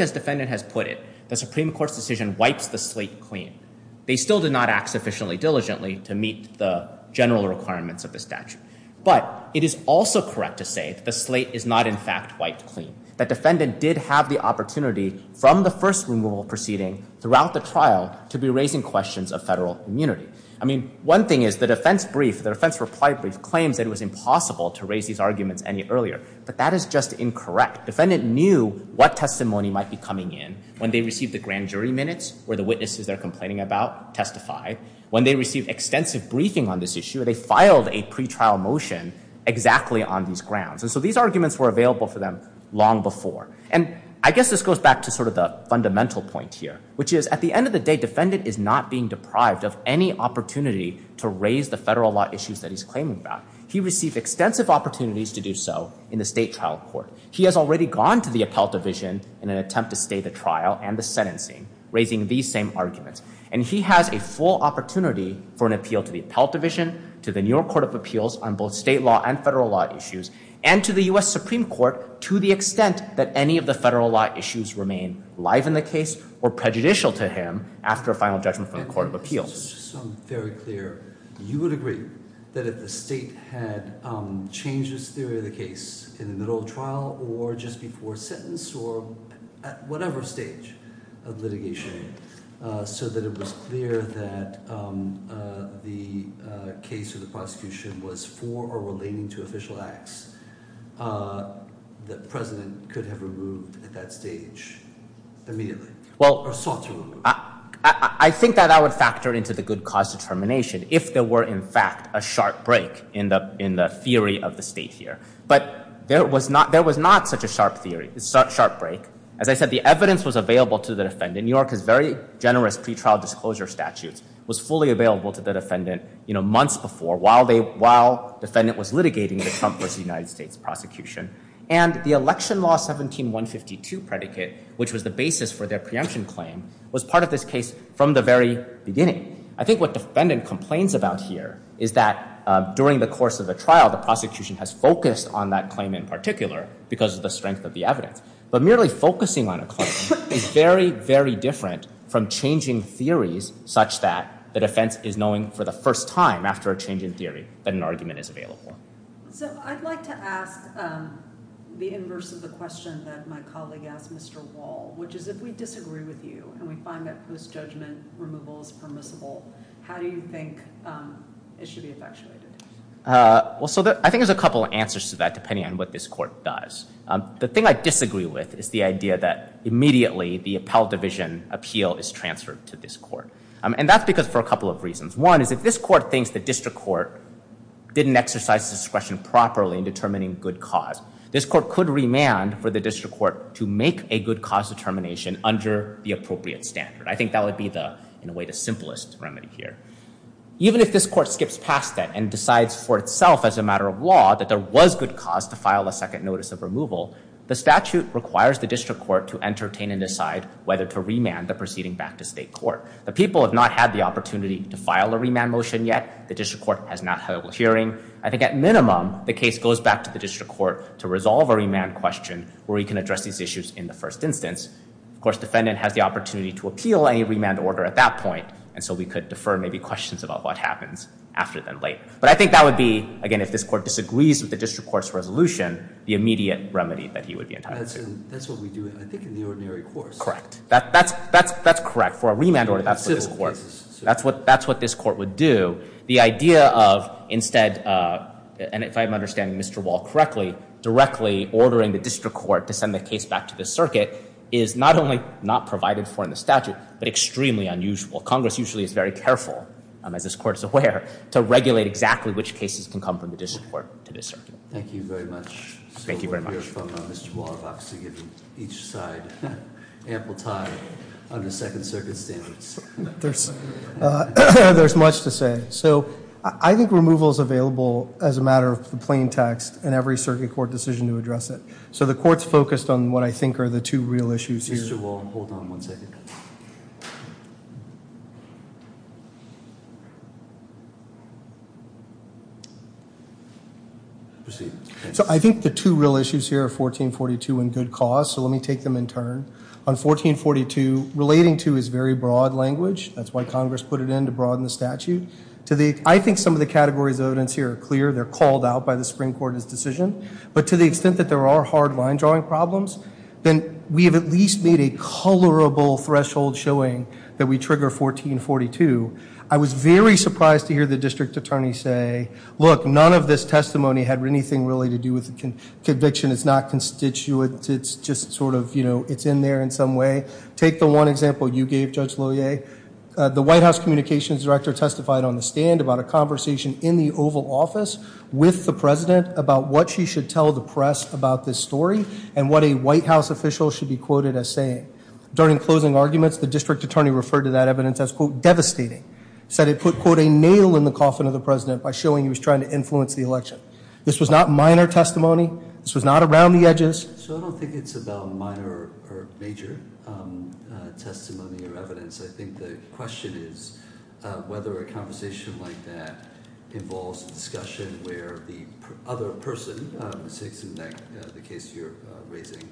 as defendant has put it, the Supreme Court's decision wipes the slate clean. They still did not act sufficiently diligently to meet the general requirements of the statute. But it is also correct to say that the slate is not in fact wiped clean. That defendant did have the opportunity from the first removal proceeding throughout the trial to be raising questions of federal immunity. I mean, one thing is the defense brief, the defense reply brief, claims that it was impossible to raise these arguments any earlier. But that is just incorrect. Defendant knew what testimony might be coming in when they received the grand jury minutes, where the witnesses they're complaining about testify. When they received extensive briefing on this issue, they filed a pretrial motion exactly on these grounds. And so these arguments were available for them long before. And I guess this goes back to sort of the fundamental point here, which is at the end of the day, defendant is not being deprived of any opportunity to raise the federal law issues that he's claiming about. He received extensive opportunities to do so in the state trial court. He has already gone to the appellate division in an attempt to stay the trial and the sentencing, raising these same arguments. And he has a full opportunity for an appeal to the appellate division, to the New York Court of Appeals on both state law and federal law issues, and to the US Supreme Court, to the extent that any of the federal law issues remain live in the case or prejudicial to him after a final judgment from the Court of Appeals. So I'm very clear, you would agree that if the state had changed this theory of the case in the middle of trial, or just before sentence, or at whatever stage of litigation, so that it was clear that the case or the prosecution was for or relating to official acts that the president could have removed at that stage immediately, or sought to remove. I think that I would factor into the good cause determination if there were, in fact, a sharp break in the theory of the state here. But there was not such a sharp break. As I said, the evidence was available to the defendant. New York has very generous pretrial disclosure statutes, was fully available to the defendant months before, while the defendant was litigating the Trump versus United States prosecution. And the election law 17152 predicate, which was the basis for their preemption claim, was part of this case from the very beginning. I think what the defendant complains about here is that during the course of the trial, the prosecution has focused on that claim in particular because of the strength of the evidence. But merely focusing on a claim is very, very different from changing theories such that the defense is knowing for the first time after a change in theory that an argument is available. So I'd like to ask the inverse of the question that my colleague asked Mr. Wall, which is if we disagree with you and we find that post-judgment removal is permissible, how do you think it should be effectuated? Well, so I think there's a couple of answers to that depending on what this court does. The thing I disagree with is the idea that immediately the appellate division appeal is transferred to this court. And that's because for a couple of reasons. One is if this court thinks the district court didn't exercise discretion properly in determining good cause, this court could remand for the district court to make a good cause determination under the appropriate standard. I think that would be the, in a way, the simplest remedy here. Even if this court skips past that and decides for itself as a matter of law that there was good cause to file a second notice of removal, the statute requires the district court to entertain and decide whether to remand the proceeding back to state court. The people have not had the opportunity to file a remand motion yet. The district court has not held a hearing. I think at minimum, the case goes back to the district court to resolve a remand question where we can address these issues in the first instance. Of course, defendant has the opportunity to appeal a remand order at that point. And so we could defer maybe questions about what happens after that late. But I think that would be, again, if this court disagrees with the district court's resolution, the immediate remedy that he would be entitled to. That's what we do, I think, in the ordinary course. Correct. That's correct. For a remand order, that's what this court would do. The idea of, instead, and if I'm understanding Mr. Wall correctly, directly ordering the district court to send the case back to the circuit is not only not provided for in the statute, but extremely unusual. Congress usually is very careful, as this court is aware, to regulate exactly which cases can come from the district court to the circuit. Thank you very much. Thank you very much. So we're from Mr. Wall, obviously, giving each side ample time under second circumstance. There's much to say. So I think removal's available as a matter of the plain text in every circuit court decision to address it. So the court's focused on what I think are the two real issues here. Mr. Wall, hold on one second. Proceed. So I think the two real issues here are 1442 and good cause, so let me take them in turn. On 1442, relating to is very broad language, that's why Congress put it in to broaden the statute. I think some of the categories of evidence here are clear, they're called out by the Supreme Court as decision. But to the extent that there are hard line drawing problems, then we have at least made a colorable threshold showing that we trigger 1442. I was very surprised to hear the district attorney say, look, none of this testimony had anything really to do with the conviction. It's not constituent, it's just sort of, it's in there in some way. Take the one example you gave, Judge Lohier. The White House Communications Director testified on the stand about a conversation in the Oval Office with the President about what she should tell the press about this story and what a White House official should be quoted as saying. During closing arguments, the district attorney referred to that evidence as, quote, devastating. Said it put, quote, a nail in the coffin of the President by showing he was trying to influence the election. This was not minor testimony, this was not around the edges. So I don't think it's about minor or major testimony or evidence. I think the question is whether a conversation like that involves a discussion where the other person, the case you're raising,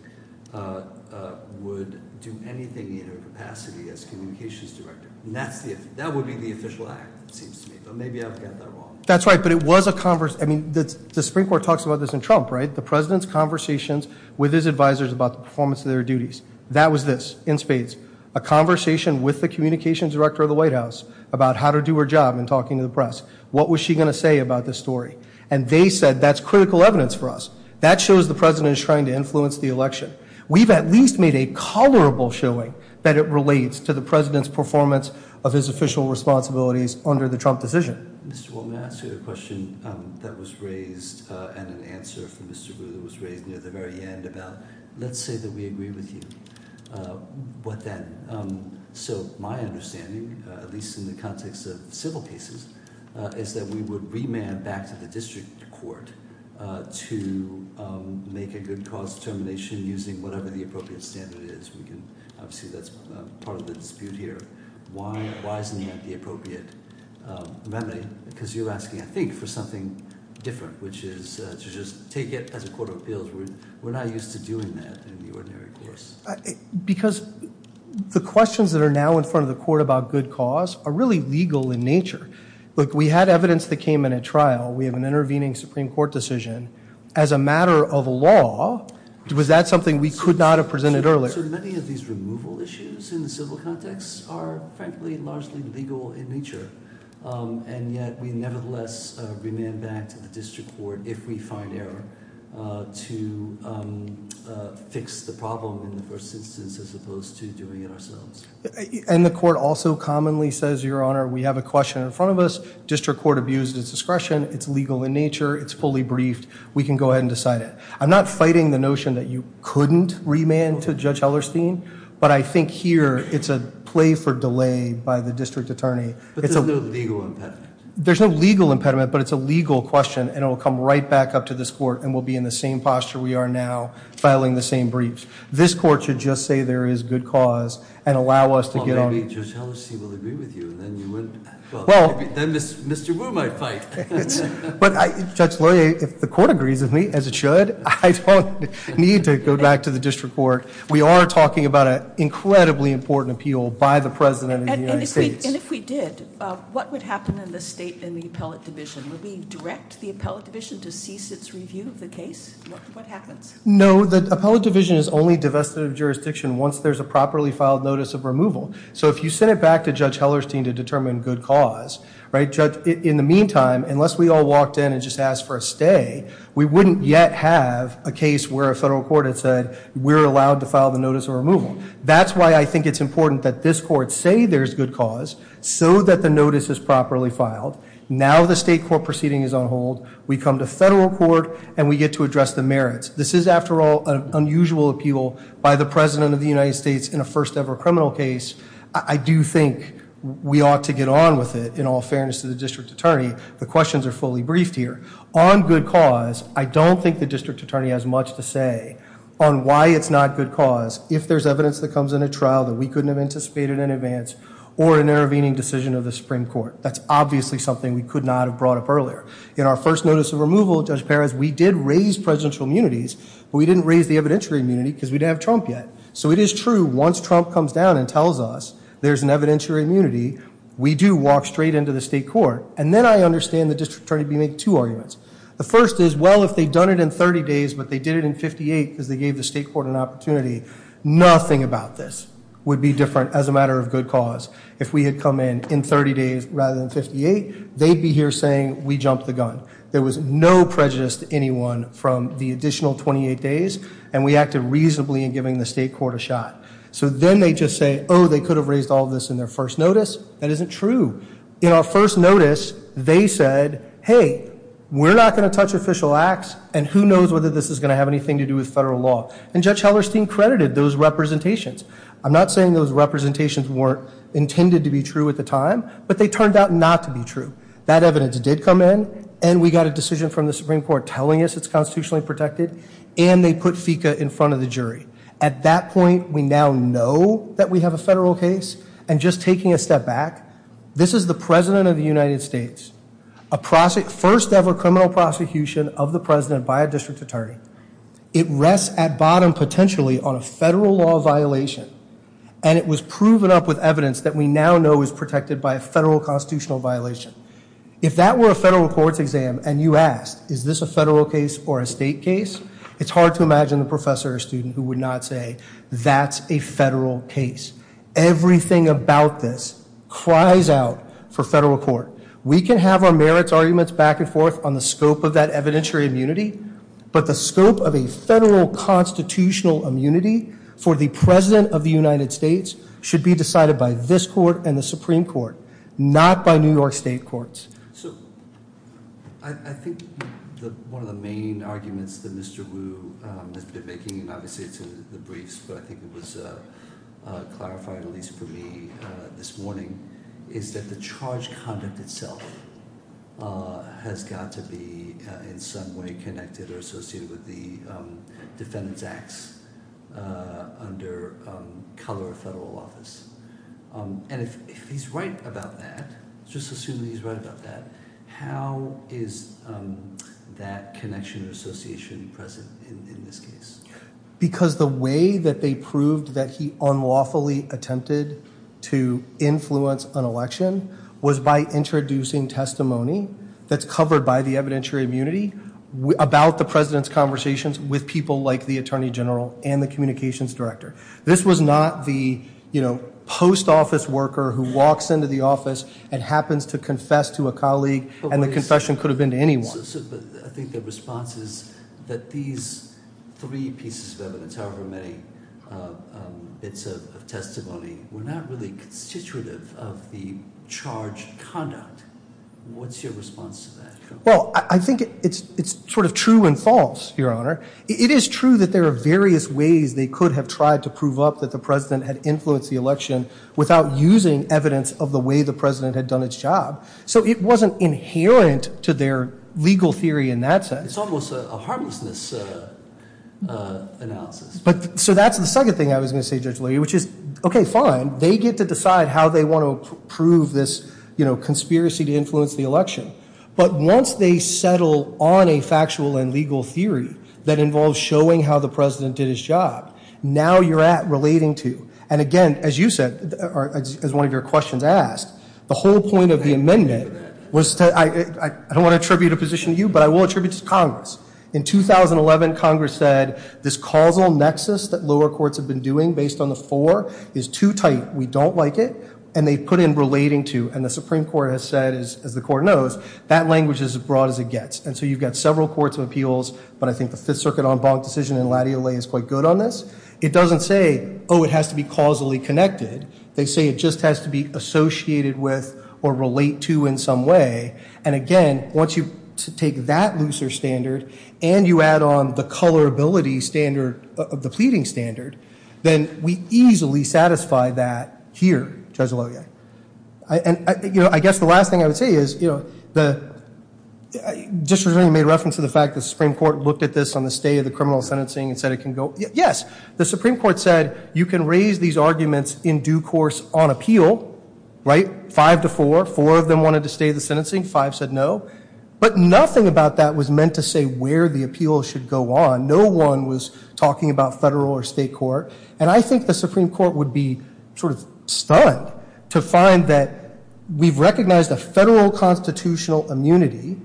would do anything in her capacity as communications director. And that would be the official act, it seems to me, but maybe I've got that wrong. That's right, but it was a, I mean, the Supreme Court talks about this in Trump, right? The President's conversations with his advisors about the performance of their duties. That was this, in spades, a conversation with the Communications Director of the White House about how to do her job in talking to the press. What was she going to say about this story? And they said, that's critical evidence for us. That shows the President is trying to influence the election. We've at least made a colorable showing that it relates to the President's performance of his official responsibilities under the Trump decision. Mr. Wolman, I'll ask you a question that was raised and an answer from Mr. Ruehl that was raised near the very end about, let's say that we agree with you, what then? So my understanding, at least in the context of civil cases, is that we would remand back to the district court to make a good cause determination using whatever the appropriate standard is. Obviously, that's part of the dispute here. Why isn't that the appropriate remedy? Because you're asking, I think, for something different, which is to just take it as a court of appeals. We're not used to doing that in the ordinary course. Because the questions that are now in front of the court about good cause are really legal in nature. Look, we had evidence that came in at trial. We have an intervening Supreme Court decision. As a matter of law, was that something we could not have presented earlier? So many of these removal issues in the civil context are, frankly, largely legal in nature. And yet, we nevertheless remand back to the district court if we find error to fix the problem in the first instance as opposed to doing it ourselves. And the court also commonly says, your honor, we have a question in front of us. District court abused its discretion. It's legal in nature. It's fully briefed. We can go ahead and decide it. I'm not fighting the notion that you couldn't remand to Judge Hellerstein. But I think here, it's a play for delay by the district attorney. But there's no legal impediment. There's no legal impediment, but it's a legal question. And it'll come right back up to this court, and we'll be in the same posture we are now, filing the same briefs. This court should just say there is good cause and allow us to get on- Well, maybe Judge Hellerstein will agree with you, and then you wouldn't. Well, then Mr. Wu might fight. But Judge Laurier, if the court agrees with me, as it should, I don't need to go back to the district court. We are talking about an incredibly important appeal by the President of the United States. And if we did, what would happen in the State and the Appellate Division? Would we direct the Appellate Division to cease its review of the case? What happens? No, the Appellate Division is only divested of jurisdiction once there's a properly filed notice of removal. So if you send it back to Judge Hellerstein to determine good cause, right? Judge, in the meantime, unless we all walked in and just asked for a stay, we wouldn't yet have a case where a federal court had said, we're allowed to file the notice of removal. That's why I think it's important that this court say there's good cause, so that the notice is properly filed. Now the state court proceeding is on hold. We come to federal court, and we get to address the merits. This is, after all, an unusual appeal by the President of the United States in a first ever criminal case. I do think we ought to get on with it, in all fairness to the District Attorney. The questions are fully briefed here. On good cause, I don't think the District Attorney has much to say on why it's not good cause. If there's evidence that comes in a trial that we couldn't have anticipated in advance, or an intervening decision of the Supreme Court. That's obviously something we could not have brought up earlier. In our first notice of removal, Judge Perez, we did raise presidential immunities. We didn't raise the evidentiary immunity because we didn't have Trump yet. So it is true, once Trump comes down and tells us there's an evidentiary immunity, we do walk straight into the state court. And then I understand the District Attorney being able to make two arguments. The first is, well, if they'd done it in 30 days, but they did it in 58 because they gave the state court an opportunity. Nothing about this would be different as a matter of good cause. If we had come in in 30 days rather than 58, they'd be here saying we jumped the gun. There was no prejudice to anyone from the additional 28 days, and we acted reasonably in giving the state court a shot. So then they just say, they could have raised all this in their first notice. That isn't true. In our first notice, they said, hey, we're not going to touch official acts, and who knows whether this is going to have anything to do with federal law, and Judge Hellerstein credited those representations. I'm not saying those representations weren't intended to be true at the time, but they turned out not to be true. That evidence did come in, and we got a decision from the Supreme Court telling us it's constitutionally protected, and they put FICA in front of the jury. At that point, we now know that we have a federal case. And just taking a step back, this is the President of the United States, a first ever criminal prosecution of the President by a district attorney. It rests at bottom potentially on a federal law violation, and it was proven up with evidence that we now know is protected by a federal constitutional violation. If that were a federal court's exam, and you asked, is this a federal case or a state case? It's hard to imagine a professor or student who would not say, that's a federal case. Everything about this cries out for federal court. We can have our merits arguments back and forth on the scope of that evidentiary immunity, but the scope of a federal constitutional immunity for the President of the United States should be decided by this court and the Supreme Court, not by New York State courts. So, I think one of the main arguments that Mr. Wu has been making, obviously to the briefs, but I think it was clarified at least for me this morning, is that the charge conduct itself has got to be in some way connected or associated with the defendant's acts under color of federal office. And if he's right about that, just assuming he's right about that, how is that connection or association present in this case? Because the way that they proved that he unlawfully attempted to influence an election was by introducing testimony that's covered by the evidentiary immunity about the President's conversations with people like the Attorney General and the Communications Director. This was not the post office worker who walks into the office and happens to confess to a colleague, and the confession could have been to anyone. So, I think the response is that these three pieces of evidence, however many bits of testimony, were not really constitutive of the charged conduct. What's your response to that? Well, I think it's sort of true and false, Your Honor. It is true that there are various ways they could have tried to prove up that the President had influenced the election without using evidence of the way the President had done his job. So, it wasn't inherent to their legal theory in that sense. It's almost a harmlessness analysis. So, that's the second thing I was going to say, Judge Leahy, which is, okay, fine. They get to decide how they want to prove this conspiracy to influence the election. But once they settle on a factual and legal theory that involves showing how the President did his job, now you're at relating to, and again, as you said, as one of your questions asked, the whole point of the amendment was to, I don't want to attribute a position to you, but I will attribute it to Congress. In 2011, Congress said this causal nexus that lower courts have been doing based on the four is too tight. We don't like it. And they put in relating to, and the Supreme Court has said, as the court knows, that language is as broad as it gets. And so, you've got several courts of appeals, but I think the Fifth Circuit en banc decision in Latte Allee is quite good on this. It doesn't say, oh, it has to be causally connected. They say it just has to be associated with or relate to in some way. And again, once you take that looser standard and you add on the colorability standard of the pleading standard, then we easily satisfy that here, Judge Lowe. And I guess the last thing I would say is, just as I made reference to the fact that the Supreme Court looked at this on the stay of the criminal sentencing and said it can go. Yes, the Supreme Court said you can raise these arguments in due course on appeal, right? Five to four, four of them wanted to stay the sentencing, five said no. But nothing about that was meant to say where the appeal should go on. No one was talking about federal or state court. And I think the Supreme Court would be sort of stunned to find that we've recognized a federal constitutional immunity,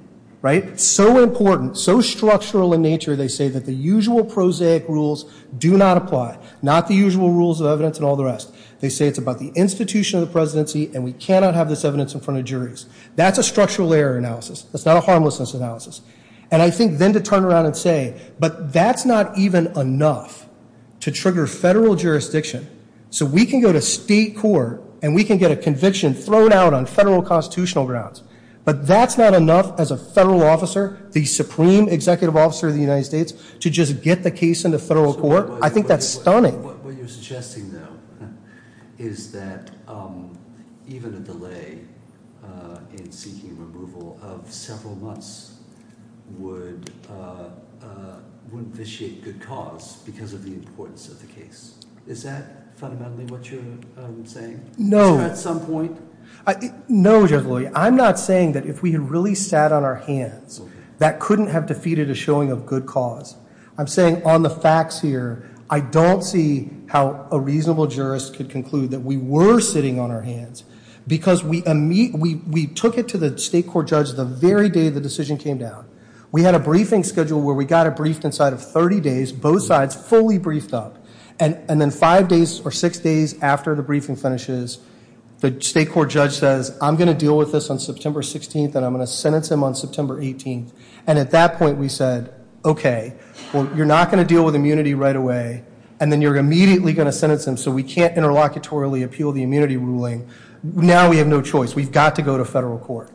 right? So important, so structural in nature, they say that the usual prosaic rules do not apply. Not the usual rules of evidence and all the rest. They say it's about the institution of the presidency and we cannot have this evidence in front of juries. That's a structural error analysis. That's not a harmlessness analysis. And I think then to turn around and say, but that's not even enough to trigger federal jurisdiction. So we can go to state court and we can get a conviction thrown out on federal constitutional grounds. But that's not enough as a federal officer, the supreme executive officer of the United States, to just get the case into federal court. I think that's stunning. What you're suggesting though, is that even a delay in seeking removal of several months would vitiate good cause because of the importance of the case. Is that fundamentally what you're saying? No. At some point? No, Judge Lilley. I'm not saying that if we had really sat on our hands, that couldn't have defeated a showing of good cause. I'm saying on the facts here, I don't see how a reasonable jurist could conclude that we were sitting on our hands. Because we took it to the state court judge the very day the decision came down. We had a briefing schedule where we got it briefed inside of 30 days, both sides fully briefed up. And then five days or six days after the briefing finishes, the state court judge says, I'm going to deal with this on September 16th and I'm going to sentence him on September 18th. And at that point we said, okay, well you're not going to deal with immunity right away. And then you're immediately going to sentence him, so we can't interlocutory appeal the immunity ruling. Now we have no choice. We've got to go to federal court.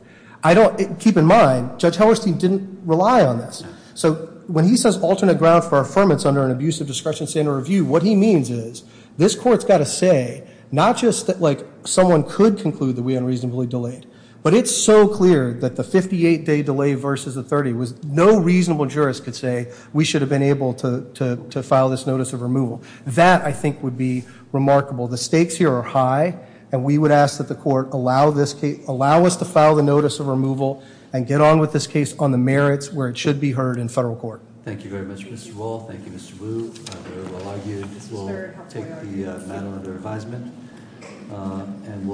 Keep in mind, Judge Hellerstein didn't rely on this. So when he says alternate ground for affirmance under an abusive discretion standard review, what he means is, this court's got to say, not just that someone could conclude that we unreasonably delayed. But it's so clear that the 58 day delay versus the 30 was no reasonable jurist could say, we should have been able to file this notice of removal. That, I think, would be remarkable. The stakes here are high, and we would ask that the court allow us to file the notice of removal, and get on with this case on the merits where it should be heard in federal court. Thank you very much, Mr. Wall. Thank you, Mr. Wu, very well argued. We'll take the matter under advisement, and